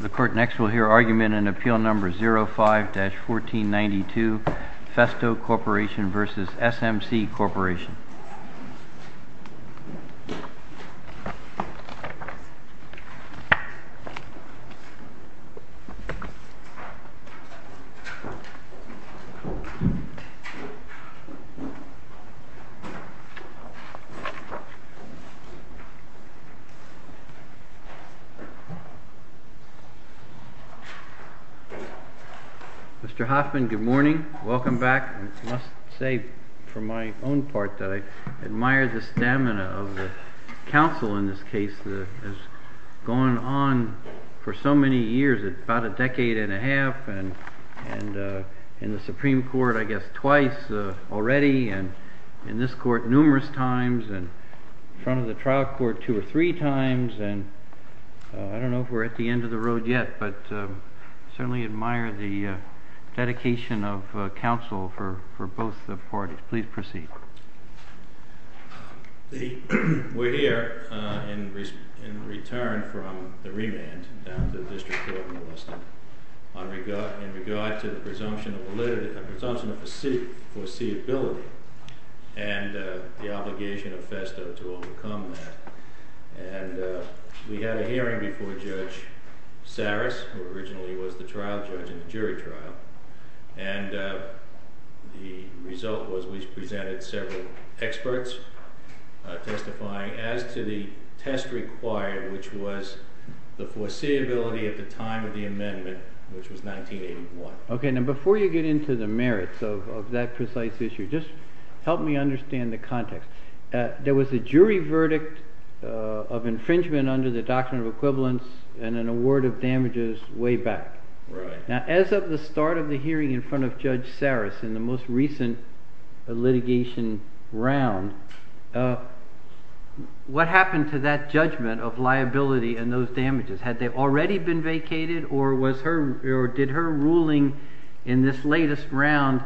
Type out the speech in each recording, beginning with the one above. The court next will hear argument in Appeal No. 05-1492, Festo Corp v. SMC Corp. Mr. Hoffman, good morning. Welcome back. I must say, for my own part, that I admire the stamina of the counsel in this case that has gone on for so many years, about a decade and a half, and in the Supreme Court, I guess, twice already, and in this court numerous times, and in front of the trial court two or three times, and I don't know if we're at the end of the road yet, but I certainly admire the dedication of counsel for both parties. Please proceed. We're here in return from the remand that the district court enlisted in regard to the presumption of foreseeability and the obligation of Festo to overcome that, and we had a hearing before Judge Saris, who originally was the trial judge in the jury trial, and the result was we presented several experts testifying as to the test required, which was the foreseeability at the time of the amendment, which was 1981. Okay. Now, before you get into the merits of that precise issue, just help me understand the context. There was a jury verdict of infringement under the Doctrine of Equivalence and an award of damages way back. Right. Now, as of the start of the hearing in front of Judge Saris in the most recent litigation round, what happened to that judgment of liability and those damages? Had they already been vacated, or did her ruling in this latest round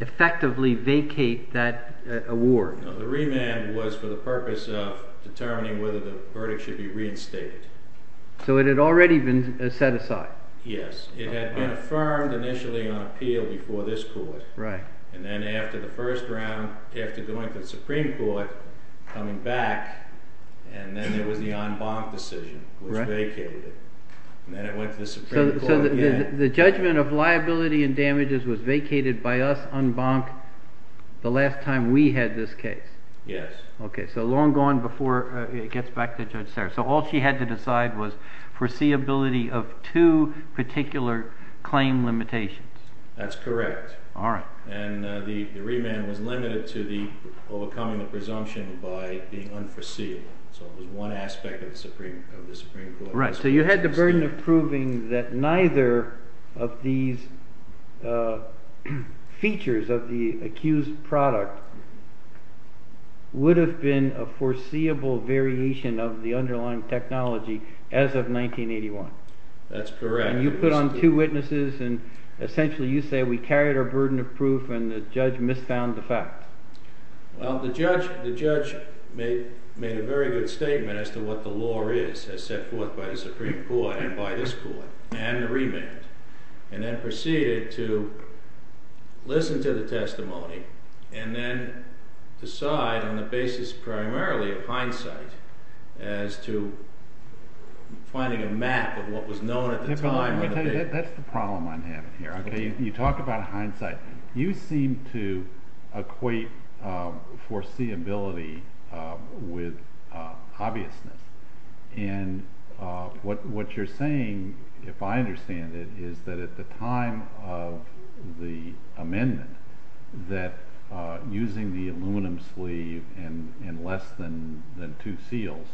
effectively vacate that award? No, the remand was for the purpose of determining whether the verdict should be reinstated. So it had already been set aside? Yes. It had been affirmed initially on appeal before this court. Right. And then after the first round, it went to the Supreme Court, coming back, and then it was the en banc decision. It was vacated. So the judgment of liability and damages was vacated by us, en banc, the last time we had this case? Yes. Okay, so long gone before it gets back to Judge Saris. So all she had to decide was the foreseeability of two particular claim limitations. That's correct. All right. And the remand was limited to overcoming the presumption by being unforeseen. So it was one aspect of the Supreme Court. Right. So you had the burden of proving that neither of these features of the accused product would have been a foreseeable variation of the underlying technology as of 1981. That's correct. And you put on two witnesses, and essentially you say we carried our burden of proof and the judge misfound the fact. Well, the judge made a very good statement as to what the law is as set forth by the Supreme Court and by this court and the remand, and then proceeded to listen to the testimony and then decide on the basis primarily of hindsight as to finding a map of what was known at the time. That's the problem I'm having here. You talk about hindsight. You seem to equate foreseeability with obviousness. And what you're saying, if I understand it, is that at the time of the amendment, that using the aluminum sleeve in less than two seals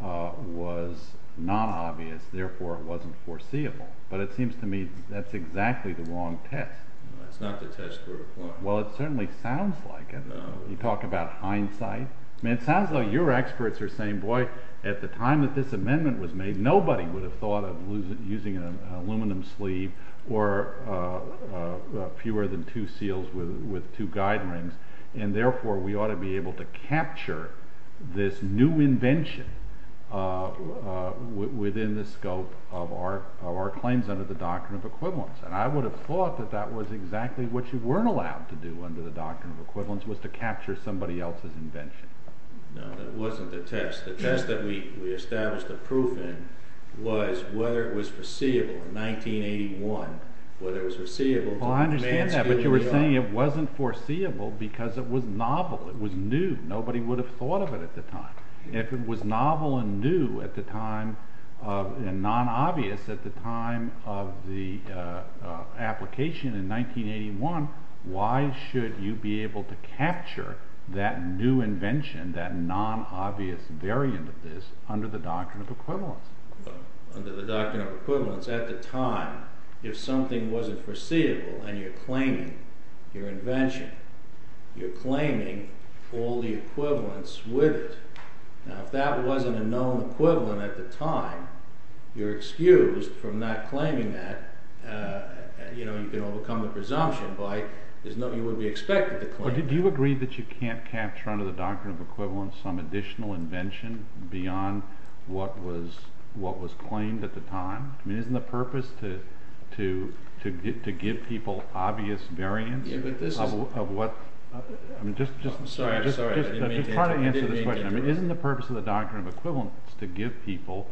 was not obvious, therefore it wasn't foreseeable. But it seems to me that's exactly the wrong test. That's not the test for the court. Well, it certainly sounds like it. You talk about hindsight. I mean, it sounds like your experts are saying, boy, at the time that this amendment was made, nobody would have thought of using an aluminum sleeve or fewer than two seals with two guidelines, and therefore we ought to be able to capture this new invention within the scope of our claims under the Doctrine of Equivalence. And I would have thought that that was exactly what you weren't allowed to do under the Doctrine of Equivalence, was to capture somebody else's invention. No, it wasn't the test. The test that we established the proof in was whether it was foreseeable in 1981, whether it was foreseeable. Oh, I understand that. But you were saying it wasn't foreseeable because it was novel. It was new. Nobody would have thought of it at the time. If it was novel and new at the time, and non-obvious at the time of the application in 1981, why should you be able to capture that new invention, that non-obvious variant of this, under the Doctrine of Equivalence? Well, under the Doctrine of Equivalence, at the time, if something wasn't foreseeable and you're claiming your invention, you're claiming all the equivalence with it. Now, if that wasn't a known equivalent at the time, you're excused from not claiming that. You know, you can overcome the presumption by there's nothing that would be expected Did you agree that you can't capture under the Doctrine of Equivalence some additional invention beyond what was claimed at the time? I mean, isn't the purpose to give people obvious variants of what... I'm sorry, I'm sorry. I'm trying to answer the question. I mean, isn't the purpose of the Doctrine of Equivalence to give people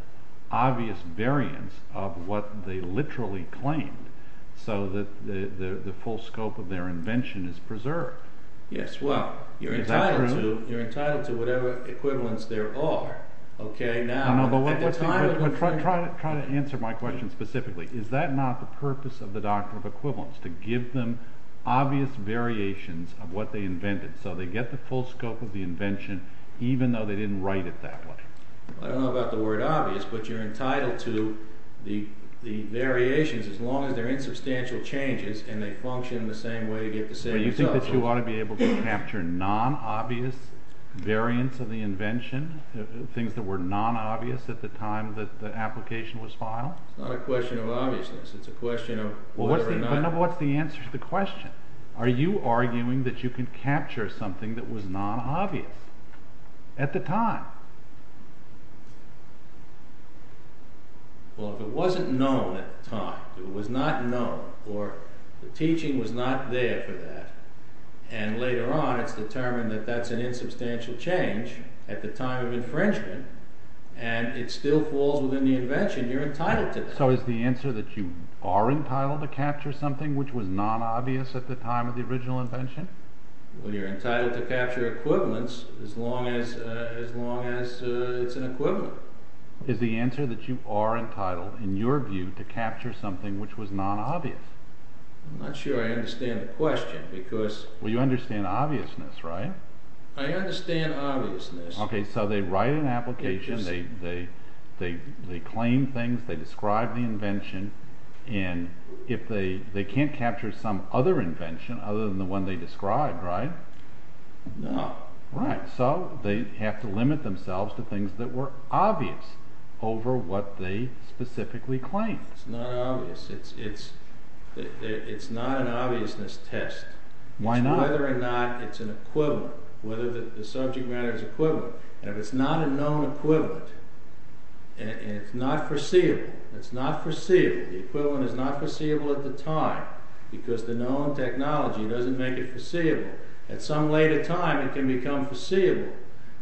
obvious variants of what they literally claimed so that the full scope of their invention is preserved? Yes, well, you're entitled to whatever equivalence there are. I'm trying to answer my question specifically. Is that not the purpose of the Doctrine of Equivalence, to give them obvious variations of what they invented so they get the full scope of the invention even though they didn't write it that way? I don't know about the word obvious, but you're entitled to the variations as long as they're You think that you ought to be able to capture non-obvious variants of the invention, things that were non-obvious at the time that the application was filed? It's not a question of obviousness. It's a question of... Well, what's the answer to the question? Are you arguing that you can capture something that was non-obvious at the time? Well, if it wasn't known at the time, it was not known, or the teaching was not there for that, and later on it's determined that that's an insubstantial change at the time of infringement, and it still falls within the invention, you're entitled to it. So is the answer that you are entitled to capture something which was non-obvious at the time of the original invention? Well, you're entitled to capture equivalents as long as it's an equivalent. Is the answer that you are entitled, in your view, to capture something which was non-obvious? I'm not sure I understand the question, because... Well, you understand obviousness, right? I understand obviousness. Okay, so they write an application, they claim things, they describe the invention, and if they can't capture some other invention other than the one they described, right? No. Right, so they have to limit themselves to things that were obvious over what they specifically claimed. It's not obvious. It's not an obviousness test. Why not? Whether or not it's an equivalent, whether the subject matter is equivalent. If it's not a known equivalent, and it's not perceivable, it's not perceivable, the equivalent is not perceivable at the time, because the known technology doesn't make it perceivable. At some later time, it can become perceivable.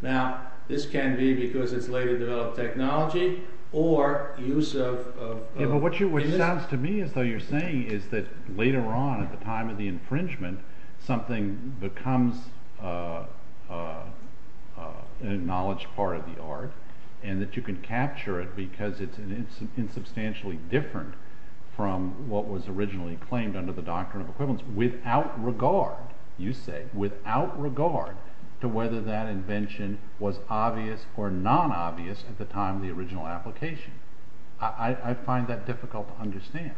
Now, this can be because it's later developed technology, or use of... Yeah, but what sounds to me as though you're saying is that later on, at the time of the infringement, something becomes an acknowledged part of the art, and that you can capture it because it's insubstantially different from what was originally claimed under the Doctrine of Equivalence, without regard, you say, without regard to whether that invention was obvious or non-obvious at the time of the original application. I find that difficult to understand.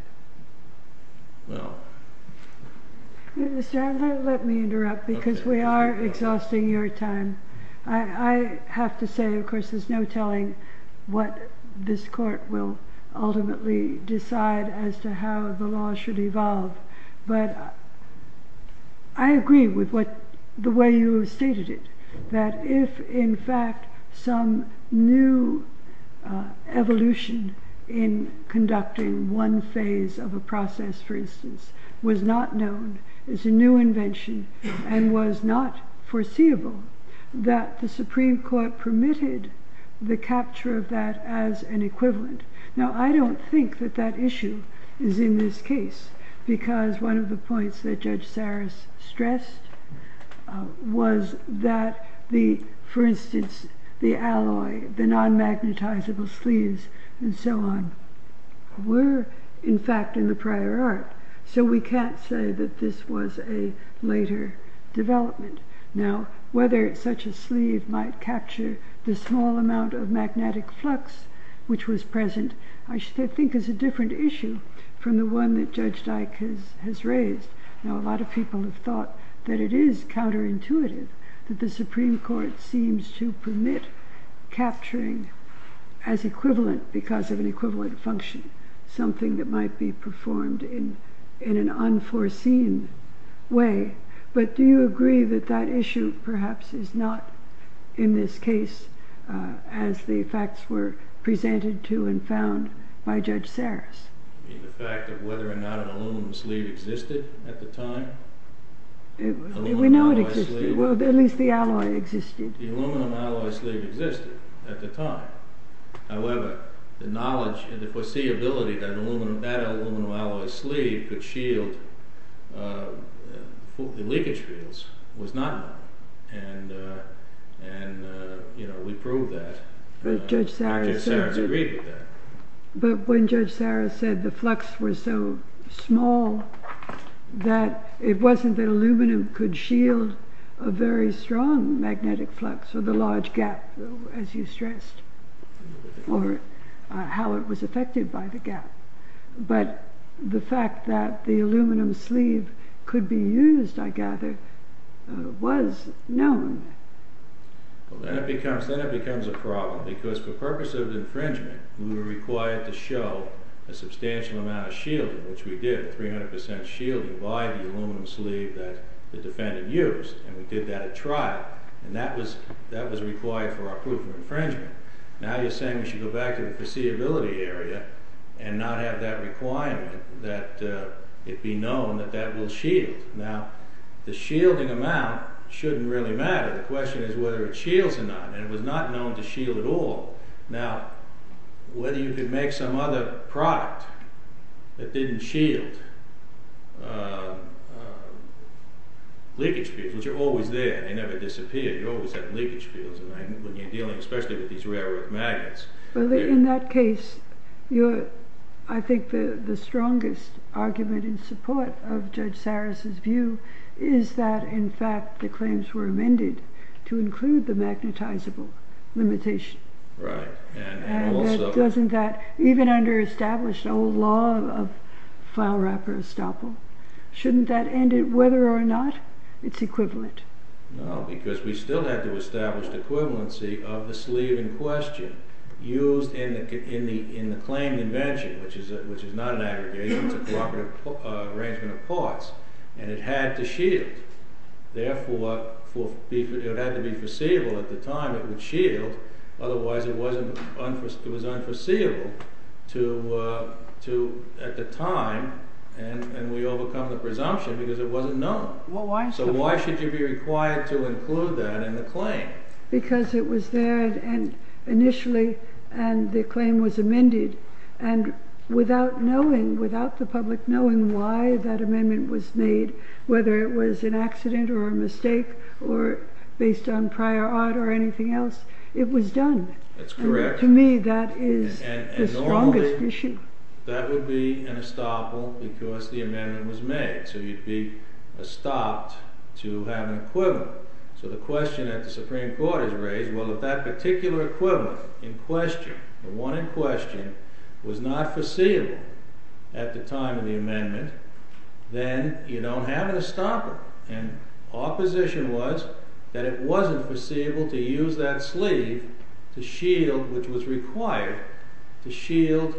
Well... Mr. Ando, let me interrupt, because we are exhausting your time. I have to say, of course, there's no telling what this Court will ultimately decide as to how the law should evolve. But I agree with the way you have stated it, that if, in fact, some new evolution in conducting one phase of a process, for instance, was not known as a new invention, and was not permitted the capture of that as an equivalent. Now, I don't think that that issue is in this case, because one of the points that Judge Saras stressed was that the, for instance, the alloy, the non-magnetizable sleeves, and so on, were, in fact, in the prior art. So we can't say that this was a later development. Now, whether such a sleeve might capture the small amount of magnetic flux which was present, I think is a different issue from the one that Judge Dyke has raised. Now, a lot of people have thought that it is counterintuitive that the Supreme Court seems to permit capturing as equivalent because of an equivalent function, something that might be performed in an unforeseen way. But do you agree that that issue, perhaps, is not in this case, as the facts were presented to and found by Judge Saras? The fact of whether or not an aluminum sleeve existed at the time? We know it existed. Well, at least the alloy existed. The aluminum alloy sleeve existed at the time. However, the knowledge and the foreseeability that that aluminum alloy sleeve could shield leakage fields was not known. And, you know, we proved that, and Judge Saras agreed with that. But when Judge Saras said the flux was so small that it wasn't that aluminum could shield a very strong magnetic flux of the large gap, as you stressed, or how it was affected by the gap. But the fact that the aluminum sleeve could be used, I gather, was known. Well, then it becomes a problem, because for purposes of infringement, we were required to show a substantial amount of shielding, which we did, 300 percent shielding, the volume of aluminum sleeve that the defendant used. And we did that at trial. And that was required for our proof of infringement. Now you're saying we should go back to the foreseeability area and not have that requirement that it be known that that will shield. Now, the shielding amount shouldn't really matter. The question is whether it shields or not. And it was not known to shield at all. Now, whether you could make some other product that didn't shield leakage fields, which are always there. They never disappear. You always have leakage fields when you're dealing, especially with these rare earth magnets. In that case, I think the strongest argument in support of Judge Saras' view is that, in fact, the claims were amended to include the magnetizable limitation. Right. And doesn't that, even under established old law of Foulwrap or Estoppel, shouldn't that end it, whether or not it's equivalent? No, because we still have to establish the equivalency of the sleeve in question used in the claim invention, which is not an aggregate, but a proper arrangement of parts. And it had to shield. Therefore, it had to be foreseeable at the time it would shield. Otherwise, it was unforeseeable at the time, and we overcome the presumption because it wasn't known. Well, why should it be? So why should you be required to include that in the claim? Because it was there initially, and the claim was amended. And without knowing, without the public knowing why that amendment was made, whether it was an accident or a mistake or based on prior art or anything else, it was done. That's correct. To me, that is the strongest issue. And normally, that would be in Estoppel because the amendment was made. So you'd be stopped to have an equivalent. So the question that the Supreme Court has raised, well, if that particular equivalent in question, the one in question, was not foreseeable at the time of the amendment, then you don't have an Estoppel. And our position was that it wasn't foreseeable to use that sleeve to shield, which was required to shield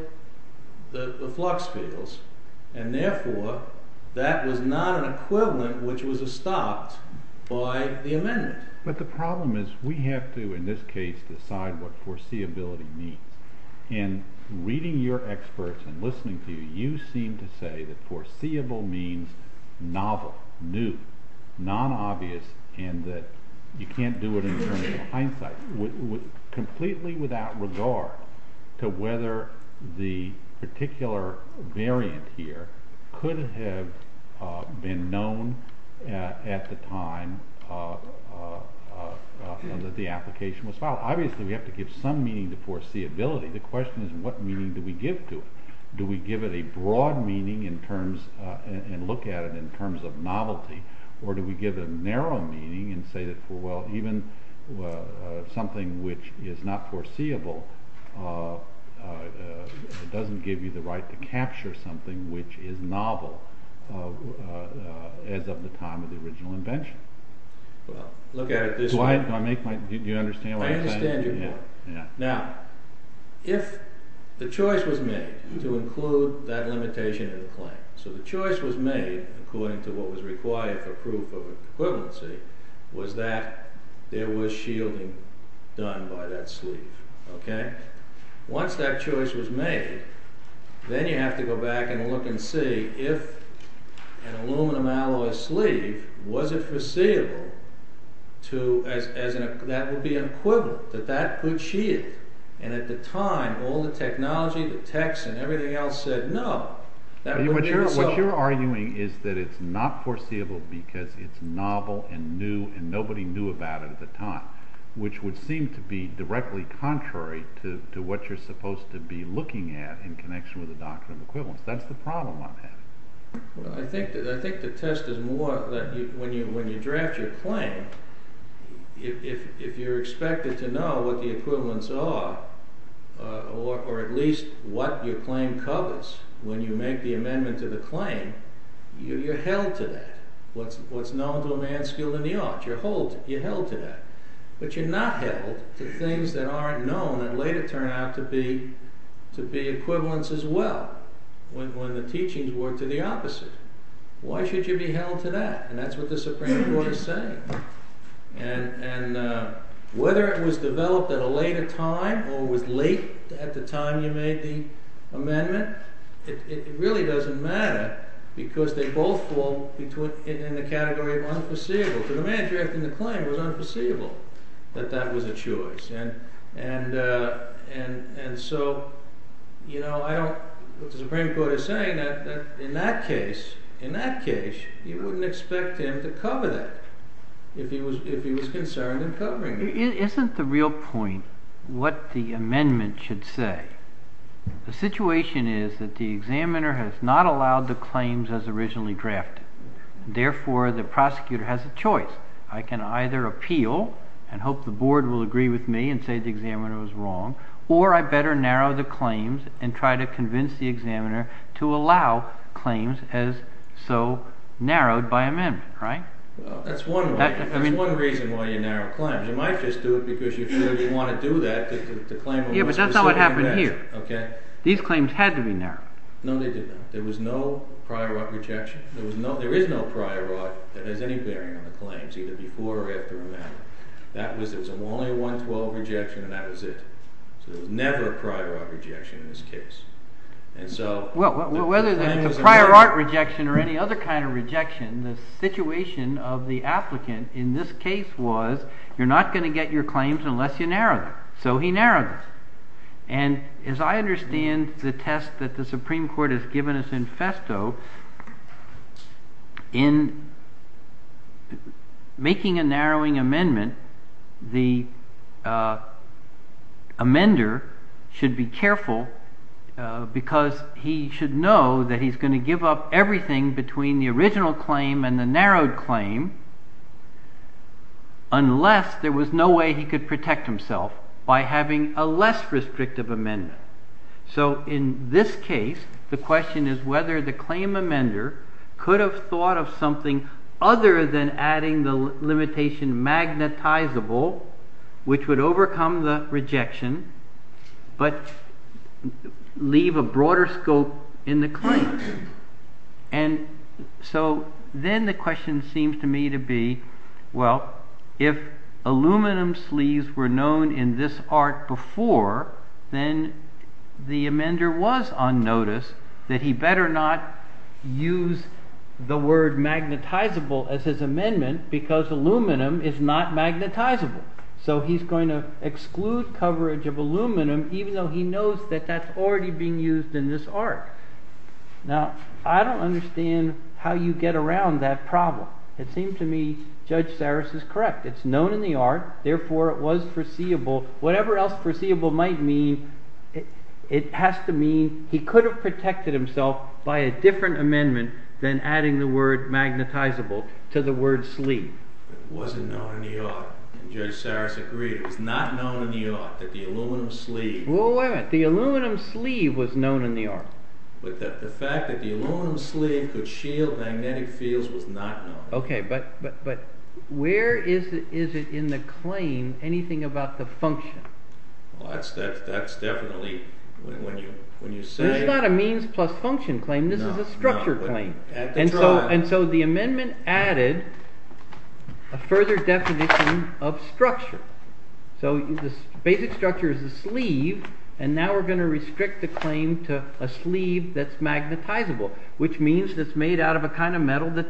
the flux fields. And therefore, that was not an equivalent which was estopped by the amendment. But the problem is we have to, in this case, decide what foreseeability means. And reading your experts and listening to you, you seem to say that foreseeable means novel, new, non-obvious, and that you can't do it in terms of hindsight, completely without regard to whether the particular variant here could have been known at the time that the application was filed. Obviously, we have to give some meaning to foreseeability. The question is what meaning do we give to it? Do we give it a broad meaning and look at it in terms of novelty? Or do we give it a narrow meaning and say that, well, even something which is not foreseeable, it doesn't give you the right to capture something which is novel as of the time of the original invention? Well, look at it this way. Do you understand what I'm saying? I understand you do. Now, if the choice was made to include that limitation in the claim, so the choice was made according to what was required for proof of equivalency, was that there was shielding done by that sleeve, okay? Once that choice was made, then you have to go back and look and see if an aluminum alloy sleeve, was it foreseeable as that would be an equivalent, that that could shield? And at the time, all the technology, the text and everything else said no. What you're arguing is that it's not foreseeable because it's novel and new and nobody knew about it at the time, which would seem to be directly contrary to what you're supposed to be looking at in connection with the doctrine of equivalence. That's the problem on that. Well, I think the test is more that when you draft your claim, if you're expected to know what the equivalents are, or at least what your claim covers when you make the amendment to the claim, you're held to that. What's known to a man skilled in the art, you're held to that. But you're not held to things that aren't known that later turn out to be equivalents as well, when the teachings were to the opposite. Why should you be held to that? And that's what the Supreme Court is saying. And whether it was developed at a because they both fall in the category of unforeseeable. So the man drafting the claim was unforeseeable, that that was a choice. And so, you know, the Supreme Court is saying that in that case, you wouldn't expect him to cover that, if he was concerned in covering that. Isn't the real point what the amendment should say? The situation is that the examiner has not allowed the claims as originally drafted. Therefore, the prosecutor has a choice. I can either appeal and hope the board will agree with me and say the examiner was wrong, or I better narrow the claims and try to convince the examiner to allow claims as so narrowed by amendment, right? Well, that's one reason why you narrow claims. You might just do it because you want to do that, because the claim... Yeah, but that's not what happened here. Okay. These claims had to be narrowed. No, they didn't. There was no prior art rejection. There was no, there is no prior art that had any bearing on the claims, either before or after amendment. That was, there was only one 12 rejection, and that was it. So there was never a prior art rejection in this case. And so... Well, whether there was a prior art rejection or any other kind of rejection, the situation of the applicant in this case was, you're not going to get your claims unless you narrow them. So he narrowed them. And as I understand the test that the Supreme Court has given us in Festo, in making a narrowing amendment, the amender should be careful because he should know that he's going to give up everything between the original claim and the narrowed unless there was no way he could protect himself by having a less restrictive amendment. So in this case, the question is whether the claim amender could have thought of something other than adding the limitation magnetizable, which would overcome the rejection, but leave a broader scope in the claims. And so then the question seems to me to be, well, if aluminum sleeves were known in this art before, then the amender was on notice that he better not use the word magnetizable as his amendment because aluminum is not magnetizable. So he's going to exclude coverage of aluminum even though he knows that that's already being used in this art. Now, I don't understand how you get around that problem. It seems to me Judge Sarris is correct. It's known in the art, therefore it was foreseeable. Whatever else foreseeable might mean, it has to mean he could have protected himself by a different amendment than adding the word magnetizable to the word sleeve. It wasn't known in the art, and Judge Sarris agreed. It was not known in the art that the aluminum sleeve... Well, why not? The aluminum sleeve was known in the art. But the fact that the aluminum sleeve could shield magnetic fields was not known. Okay, but where is it in the claim anything about the function? Well, that's definitely... This is not a means plus function claim. This is a structure claim. And so the amendment added a further definition of structure. So the basic structure is the sleeve, and now we're going to restrict the claim to a sleeve that's magnetizable, which means it's made out of a kind of metal that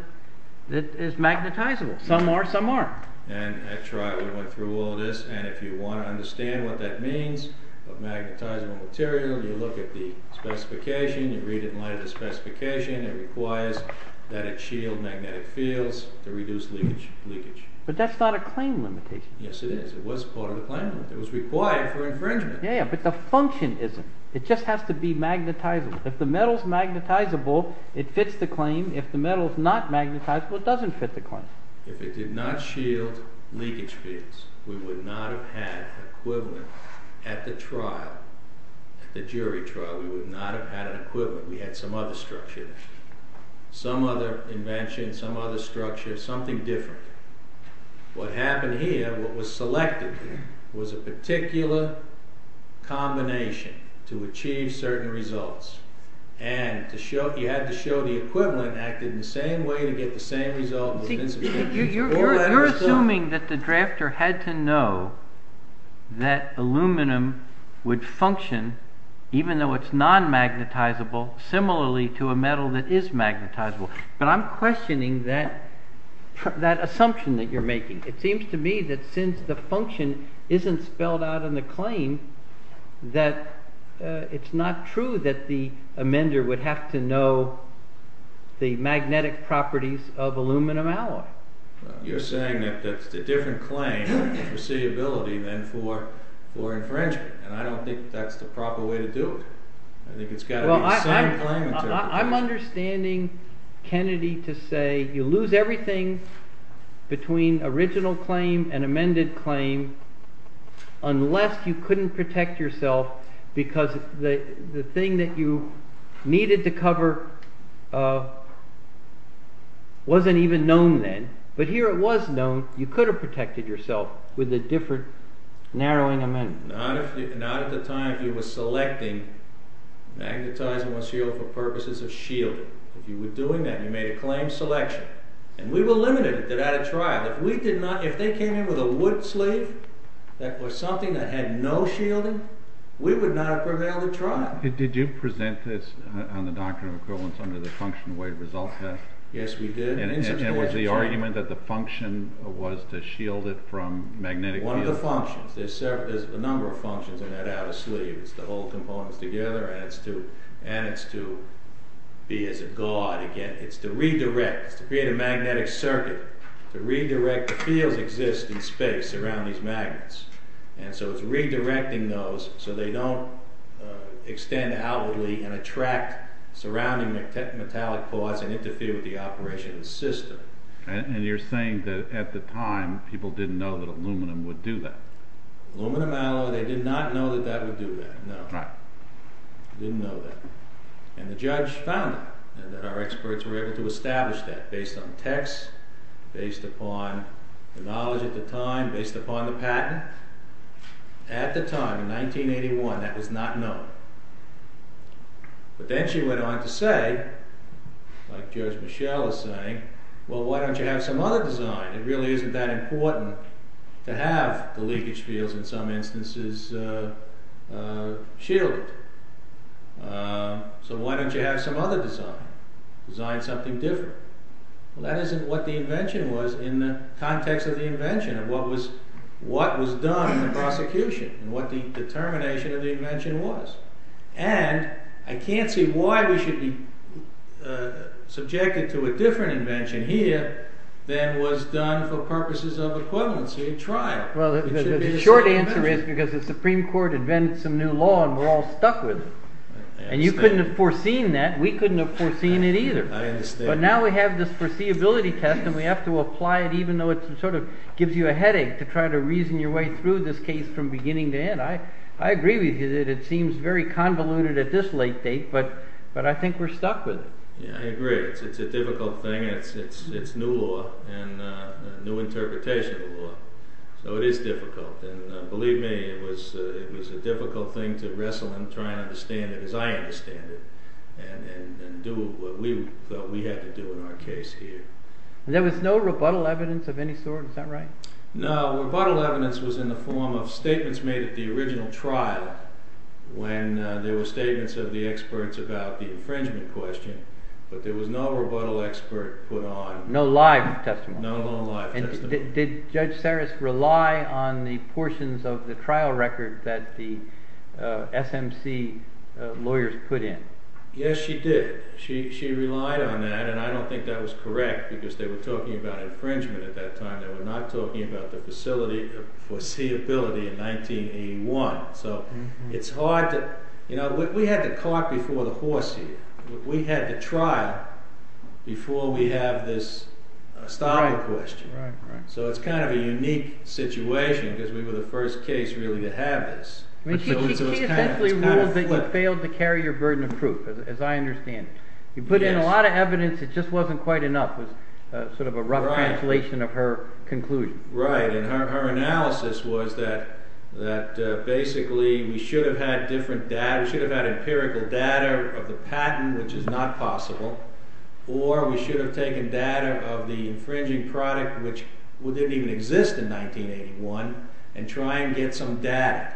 is magnetizable. Some are, some aren't. And at trial we went through all this, and if you want to understand what that means, what magnetizable material, you look at the specification, you read it in light of the law, it requires that it shield magnetic fields to reduce leakage. But that's not a claim limitation. Yes, it is. It was part of the claim. It was required for infringement. Yeah, but the function isn't. It just has to be magnetizable. If the metal's magnetizable, it fits the claim. If the metal's not magnetizable, it doesn't fit the claim. If it did not shield leakage fields, we would not have had an equivalent at the trial, the some other invention, some other structure, something different. What happened here, what was selected was a particular combination to achieve certain results. And you had to show the equivalent acted in the same way to get the same result. You're assuming that the drafter had to know that aluminum would function, even though it's non-magnetizable, similarly to a metal that is magnetizable. But I'm questioning that assumption that you're making. It seems to me that since the function isn't spelled out in the claim, that it's not true that the amender would have to know the magnetic properties of aluminum alloy. You're saying that the different claim is foreseeability than for infringement, and I don't think that's the proper way to do it. I'm understanding Kennedy to say you lose everything between original claim and amended claim unless you couldn't protect yourself because the thing that you needed to cover wasn't even known then. But here it was known, you could have protected yourself with a different claim. But at the time you were selecting magnetizable shield for purposes of shielding. If you were doing that, you made a claim selection. And we were limited to that trial. If they came in with a wood slate that was something that had no shielding, we would not have prevailed the trial. Did you present this on the Doctrine of Equivalence under the function-of-weight result test? Yes, we did. And was the argument that the function was to shield it from magnetic field? One of the functions, there's a number of functions in that outer sleeve. It's to hold components together and it's to be as a guard again. It's to redirect, to create a magnetic circuit, to redirect the field existing space around these magnets. And so it's redirecting those so they don't extend outwardly and attract surrounding metallic parts and interfere with the operation of the system. And you're saying that at the time people didn't know that aluminum would do that? Aluminum alloy, they did not know that that would do that, no. Right. Didn't know that. And the judge found it and that our experts were able to establish that based on the text, based upon the knowledge at the time, based upon the patent. At the time, in 1981, that was not known. But then she went on to say, like Judge Michelle is saying, well, why don't you have some other design? It really isn't that important to have the leakage fields in some instances shielded. So why don't you have some other design? Design something different. Well, that isn't what the invention was in the context of the invention and what was done in the prosecution and what the determination of And I can't see why we should be subjected to a different invention here than was done for purposes of equivalency trial. Well, the short answer is because the Supreme Court invented some new law and we're all stuck with it. And you couldn't have foreseen that. We couldn't have foreseen it either. I understand. But now we have this foreseeability test and we have to apply it even though it sort of gives you a headache to try to reason your way through this case from beginning to end. I agree with you that it seems very convoluted at this late date, but I think we're stuck with it. Yeah, I agree. It's a difficult thing. It's new law and new interpretation of law. So it is difficult. And believe me, it was a difficult thing to wrestle and try and understand it as I understand it and do what we thought we had to do in our case here. And there was no rebuttal evidence of any sort? Is that right? No, rebuttal evidence was in the form of statements made at the original trial when there were statements of the experts about the infringement question. But there was no rebuttal expert put on. No live testimony? No live testimony. And did Judge Saris rely on the portions of the trial record that the SMC lawyers put in? Yes, she did. She relied on that. And I don't think that was correct because they were talking about infringement at that time. They were not talking about the facility, the foreseeability in 1981. So it's hard to, you know, we had to talk before the foresee. We had to trial before we had this style of question. So it's kind of a unique situation because we were the first case really to have this. She essentially ruled that you failed to carry your burden of proof, as I understand it. You put in a lot of evidence. It just wasn't quite enough. It was sort of a rough translation of her conclusion. Right. And her analysis was that basically we should have had different data. We should have had empirical data of the patent, which is not possible. Or we should have taken data of the infringing product, which didn't even exist in 1981, and try and get some data.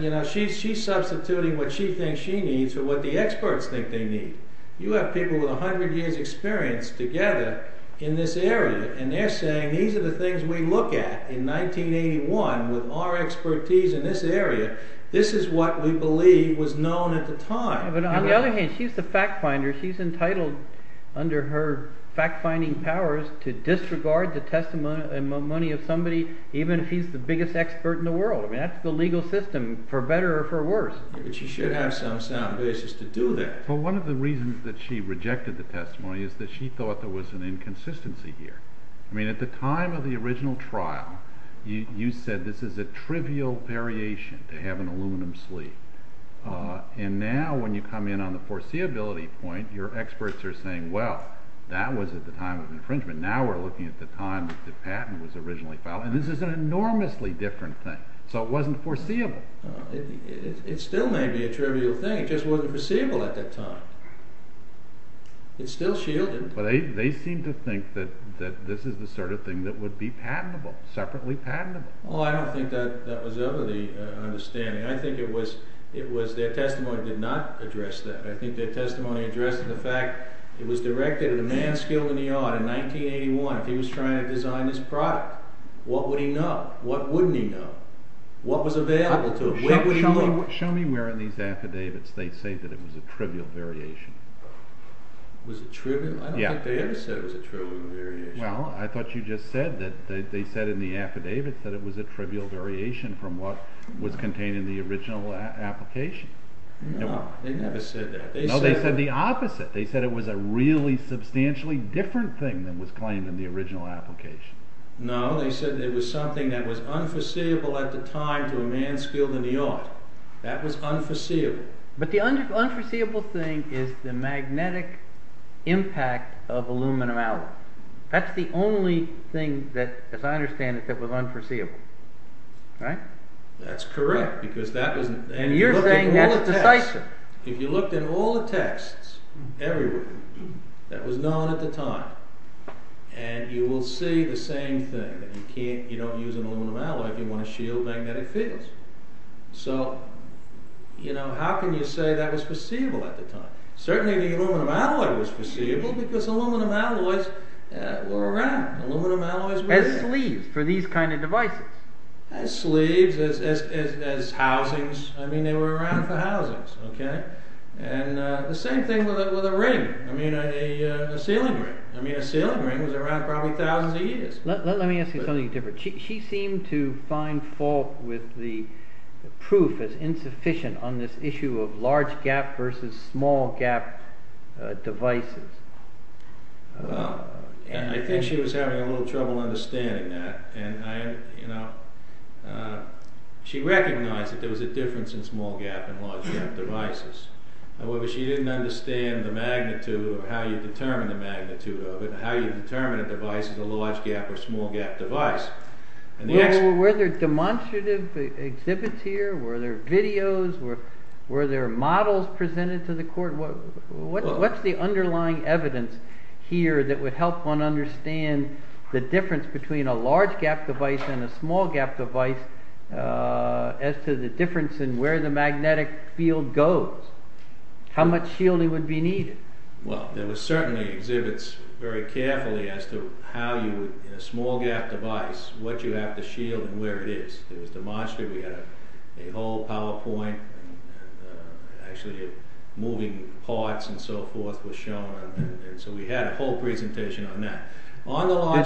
You know, she's substituting what she thinks she needs or what the experts think they need. You have people with 100 years experience together in this area, and they're saying these are the things we look at in 1981 with our expertise in this area. This is what we believe was known at the time. She's the fact finder. She's entitled under her fact finding powers to disregard the testimony and money of somebody, even if he's the biggest expert in the world. That's the legal system for better or for worse. But she should have some basis to do that. Well, one of the reasons that she rejected the testimony is that she thought there was an inconsistency here. I mean, at the time of the original trial, you said this is a trivial variation to have an aluminum sleeve. And now when you come in on the foreseeability point, your experts are saying, well, that was at the time of infringement. Now we're looking at the time that the patent was originally filed. And this is an enormously different thing. So it wasn't foreseeable. It still may be a trivial thing. It just wasn't foreseeable at the time. It's still shielded. But they seem to think that this is the sort of thing that would be patentable, separately patentable. Well, I don't think that was ever the understanding. I think it was their testimony did not address that. I think their testimony addressed the fact it was directed at a man skilled in the field that they wanted. He was trying to design this product. What would he know? What wouldn't he know? What was available to him? Show me where in these affidavits they say that it was a trivial variation. I don't think they ever said it was a trivial variation. Well, I thought you just said that they said in the affidavits that it was a trivial variation from what was contained in the original application. No, they never said that. No, they said the opposite. They said it was a really substantially different thing than what was claimed in the original application. No, they said it was something that was unforeseeable at the time to a man skilled in the art. That was unforeseeable. But the unforeseeable thing is the magnetic impact of aluminum alloy. That's the only thing that, as I understand it, that was unforeseeable. Right? That's correct, because that was... And you're saying that's decisive. If you looked at all the texts, everywhere, that was known at the time, and you will see the same thing, that you can't, you don't use an aluminum alloy if you want to shield magnetic fields. So, you know, how can you say that was foreseeable at the time? Certainly the aluminum alloy was foreseeable, because aluminum alloys were around. Aluminum alloys were there. As sleeves for these kind of devices. As sleeves, as housings. I mean, they were around for housings. Okay? And the same thing with a ring. I mean, a sealing ring. I mean, a sealing ring was around probably thousands of years. Let me ask you something different. She seemed to find fault with the proof as insufficient on this issue of large gap versus small gap devices. And I think she was having a little trouble understanding that. And I, you know, she recognized that there was a difference in small gap and large gap devices. However, she didn't understand the magnitude of how you determine the magnitude of it, how you determine a device is a large gap or small gap device. Were there demonstrative exhibits here? Were there videos? Were there models presented to the court? What's the underlying evidence here that would help one understand the difference between a large gap device and a small gap device as to the difference in where the magnetic field goes? How much shielding would be needed? Well, there were certainly exhibits very carefully as to how you, in a small gap device, what you have to shield and where it is. In the demonstrative, we had a whole PowerPoint and actually moving parts and so forth was shown. So, we had a whole presentation on that.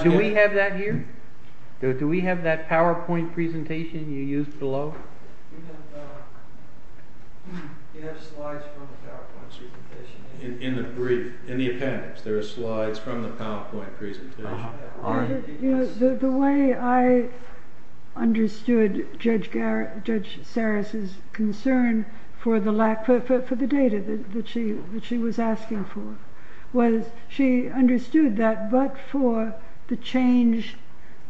Do we have that here? Do we have that PowerPoint presentation you used below? We have slides from the PowerPoint presentation. In the appendix, there are slides from the PowerPoint presentation. The way I understood Judge Sarris' concern for the data that she was asking for was she understood that but for the change,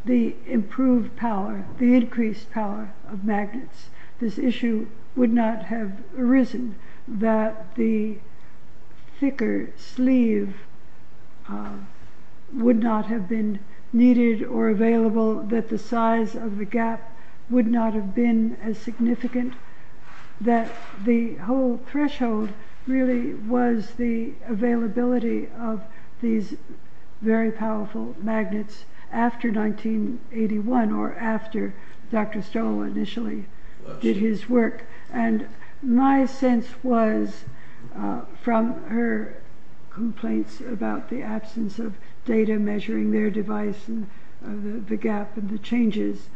the improved power, the increased power of magnets, this would not have been needed or available, that the size of the gap would not have been as significant, that the whole threshold really was the availability of these very powerful magnets after 1981 or after Dr. Stoll initially did his work. My sense was, from her complaints about the absence of data measuring their device and the gap and the changes,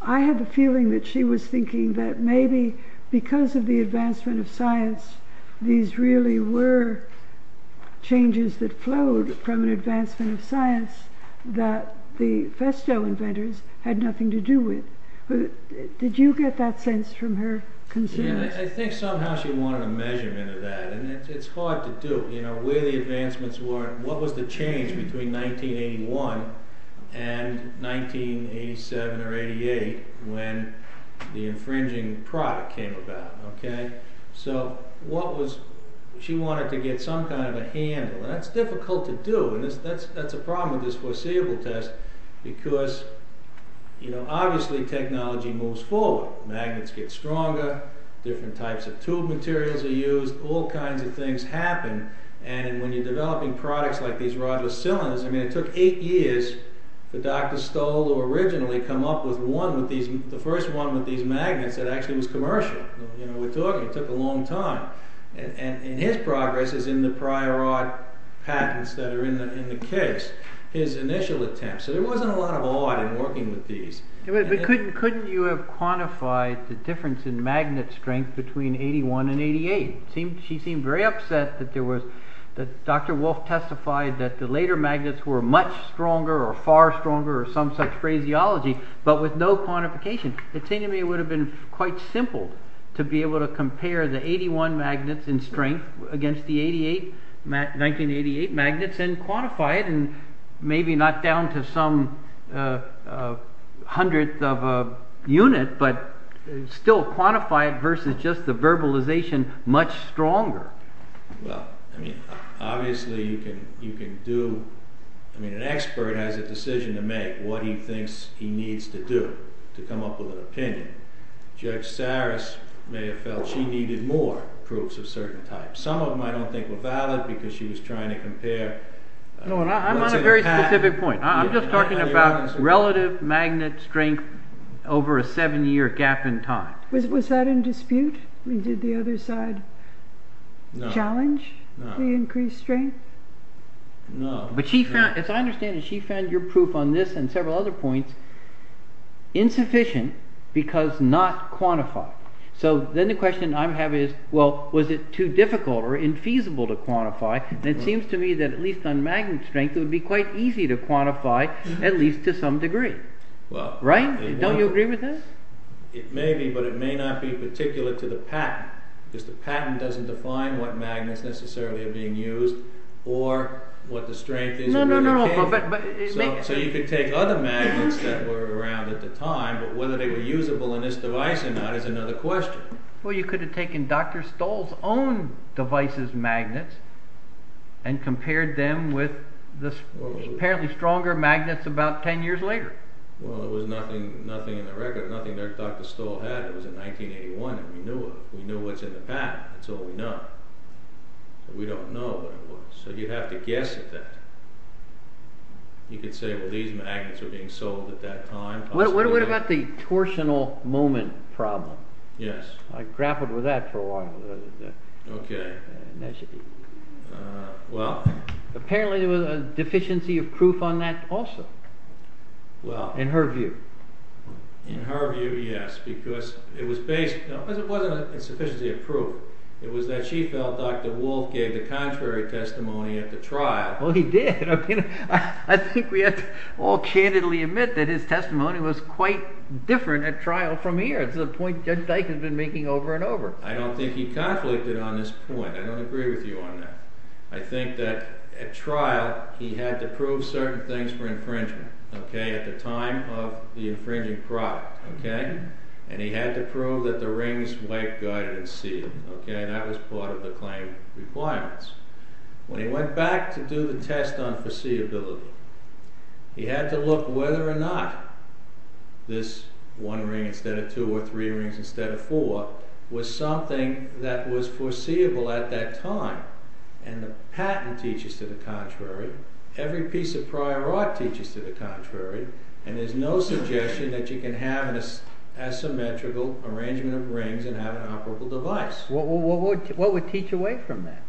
I have a feeling that she was thinking that maybe because of the advancement of science, these really were changes that flowed from advancement of science that the Festo inventors had nothing to do with. Did you get that sense from her concerns? Yeah, I think somehow she wanted a measurement of that and it's hard to do. You know, where the advancements were, what was the change between 1981 and 1987 or 1988 when the infringing product came about, okay? So, what was, she wanted to get some kind of a handle. That's difficult to do and that's a problem with this foreseeable test because, you know, obviously technology moves forward. Magnets get stronger, different types of tube materials are used, all kinds of things happen and when you're developing products like these rodless cylinders, I mean, it took eight years for Dr. Stoll to originally come up with one of these, the first one with these magnets that actually was commercial. You know, we thought it took a long time and his progress is in the prior rod patents that are in the case, his initial attempts. So, there wasn't a lot of odd in working with these. But couldn't you have quantified the difference in magnet strength between 1981 and 1988? She seemed very upset that there was, that Dr. Wolf testified that the later magnets were much stronger or far stronger or some such phraseology but with no quantification. The thing to me would have been quite simple to be able to compare the 81 magnets in strength against the 88, 1988 magnets and quantify it and maybe not down to some hundredth of a unit but still quantify it versus just the verbalization much stronger. Well, I mean, obviously you can do, I mean, an expert has a decision to make, what he needs to do to come up with an opinion. Jack Starris may have felt she needed more proofs of certain types. Some of them I don't think were valid because she was trying to compare… No, I'm on a very specific point. I'm just talking about relative magnet strength over a seven-year gap in time. Was that in dispute? Did the other side challenge the increased strength? No. But she found, as I understand it, she found your proof on this and several other points insufficient because not quantified. So then the question I have is, well, was it too difficult or infeasible to quantify? And it seems to me that at least on magnet strength it would be quite easy to quantify at least to some degree. Right? Don't you agree with this? It may be but it may not be particular to the patent because the patent doesn't define what magnets necessarily are being used or what the strength is. No, no, no. So you could take other magnets that were around at the time but whether they were usable in this device or not is another question. Well, you could have taken Dr. Stoll's own device's magnets and compared them with the apparently stronger magnets about ten years later. Well, there was nothing in the record, nothing there Dr. Stoll had. It was in 1981 and we knew what's in the patent. That's all we know. We don't know what it was. So you have to guess at that. You could say, well, these magnets are being sold at that time. What about the torsional moment problem? Yes. I grappled with that for a while. Okay. Well, apparently there was a deficiency of proof on that also in her view. In her view, yes, because it wasn't a deficiency of proof. It was that she felt Dr. Wolf gave a contrary testimony at the trial. Well, he did. I mean, I think we have to all candidly admit that his testimony was quite different at trial from here to the point Judge Dike has been making over and over. I don't think he conflicted on this point. I don't agree with you on that. I think that at trial, he had to prove certain things for infringement, okay, at the time of the infringing product, okay, and he had to prove that the rings white-guarded and sealed, okay, and that was part of the claim requirements. When he went back to do the test on foreseeability, he had to look whether or not this one ring instead of two or three rings instead of four was something that was foreseeable at that time, and the patent teaches to the contrary, every piece of prior art teaches to the contrary, and there's no suggestion that you can have an asymmetrical arrangement of rings and have an operable device. Well, what would teach away from that?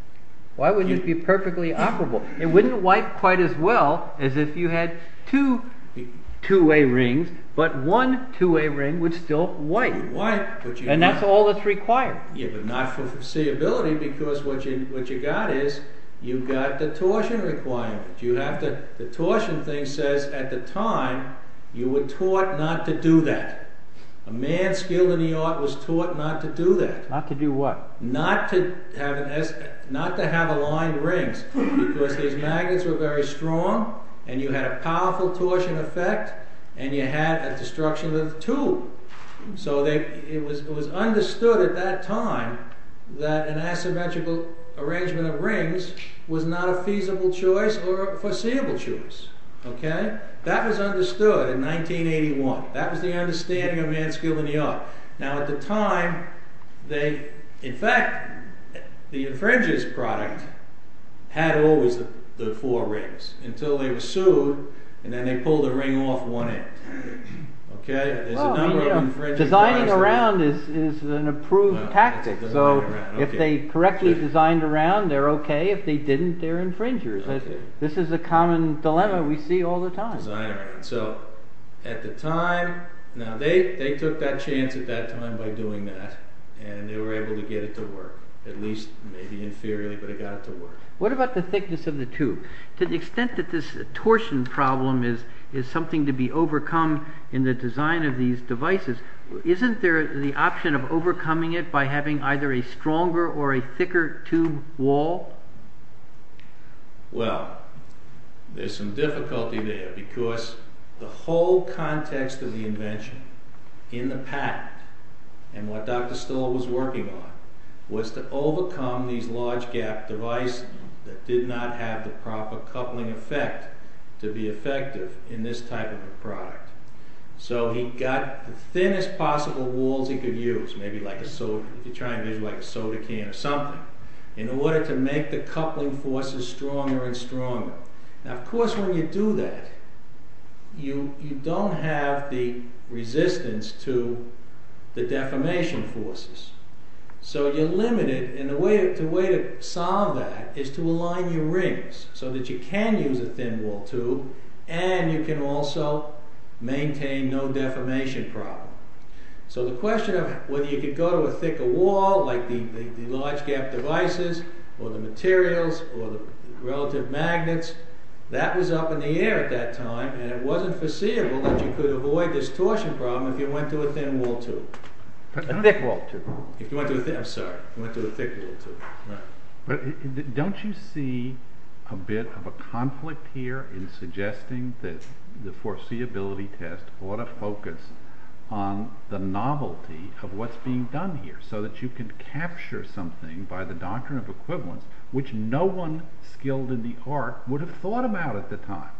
Why wouldn't it be perfectly operable? It wouldn't wipe quite as well as if you had two two-way rings, but one two-way ring would still wipe, and that's all that's required. Yeah, but not for foreseeability, because what you got is, you've got the torsion requirement. You have to, the torsion thing says, at the time, you were taught not to do that. A man skilled in the art was taught not to do that. Not to do what? Not to have aligned rings, because his magnets were very strong, and you had a powerful torsion effect, and you had a destruction of the two. So, it was understood at that time that an asymmetrical arrangement of rings was not a feasible choice or a foreseeable choice. Okay? That was understood in 1981. That was the understanding of man skilled in the art. Now, at the time, they, in fact, the infringer's product had always the four rings, until they were sued, and then they pulled the ring off one end. Okay? Designing around is an approved tactic. So, if they correctly designed around, they're okay. If they didn't, they're infringers. This is a common dilemma we see all the time. So, at the time, now they took that chance at that time by doing that, and they were able to get it to work. At least, maybe inferiorly, but it got it to work. What about the thickness of the two? To the extent that this torsion problem is something to be overcome in the design of these devices, isn't there the option of overcoming it by having either a stronger or a thicker tube wall? Well, there's some difficulty there, because the whole context of the invention in the past, and what Dr. Stiller was working on, was to overcome these large gap devices that did not have the proper coupling effect to be effective in this type of a product. So, he got the thinnest possible walls he could use, maybe like a soda can or something, in order to make the coupling forces stronger and stronger. Now, of course, when you do that, you don't have the resistance to the deformation forces. So, you're limited, and the way to solve that is to align your rings, so that you can use a thin wall tube, and you can also maintain no deformation problem. So, the question of whether you could go to a thicker wall, like the large gap devices, or the materials, or the relative magnets, that was up in the air at that time, and it wasn't foreseeable that you could avoid this torsion problem if you went to a thin wall tube. A thick wall tube. If you went to a thick... I'm sorry. If you went to a thick wall tube. Right. Don't you see a bit of a conflict here in suggesting that the foreseeability test ought to focus on the novelty of what's being done here, so that you can capture something by the doctrine of equivalent, which no one skilled in the art would have thought about at the time?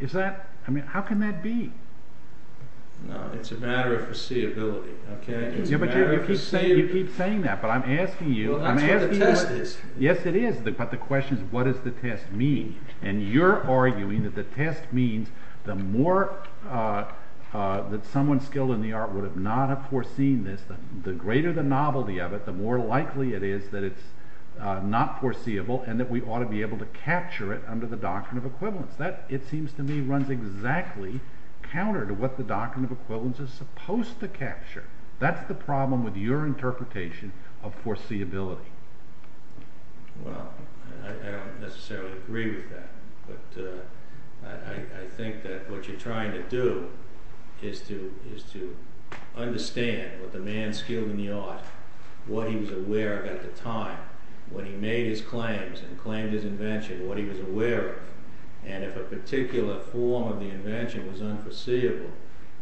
Is that... I mean, how can that be? No, it's a matter of foreseeability. Okay? It's a matter of foreseeability. You keep saying that, but I'm asking you... The test is. Yes, it is. But the question is, what does the test mean? And you're arguing that the test means the more that someone skilled in the art would have not have foreseen this, the greater the novelty of it, the more likely it is that it's not foreseeable, and that we ought to be able to capture it under the doctrine of equivalent. That, it seems to me, runs exactly counter to what the doctrine of equivalence is supposed to capture. That's the problem with your interpretation of foreseeability. Well, I don't necessarily agree with that. But I think that what you're trying to do is to understand what the man skilled in the art, what he was aware of at the time, when he made his claims and claimed his invention, what he was aware of. And if a particular form of the invention is unforeseeable,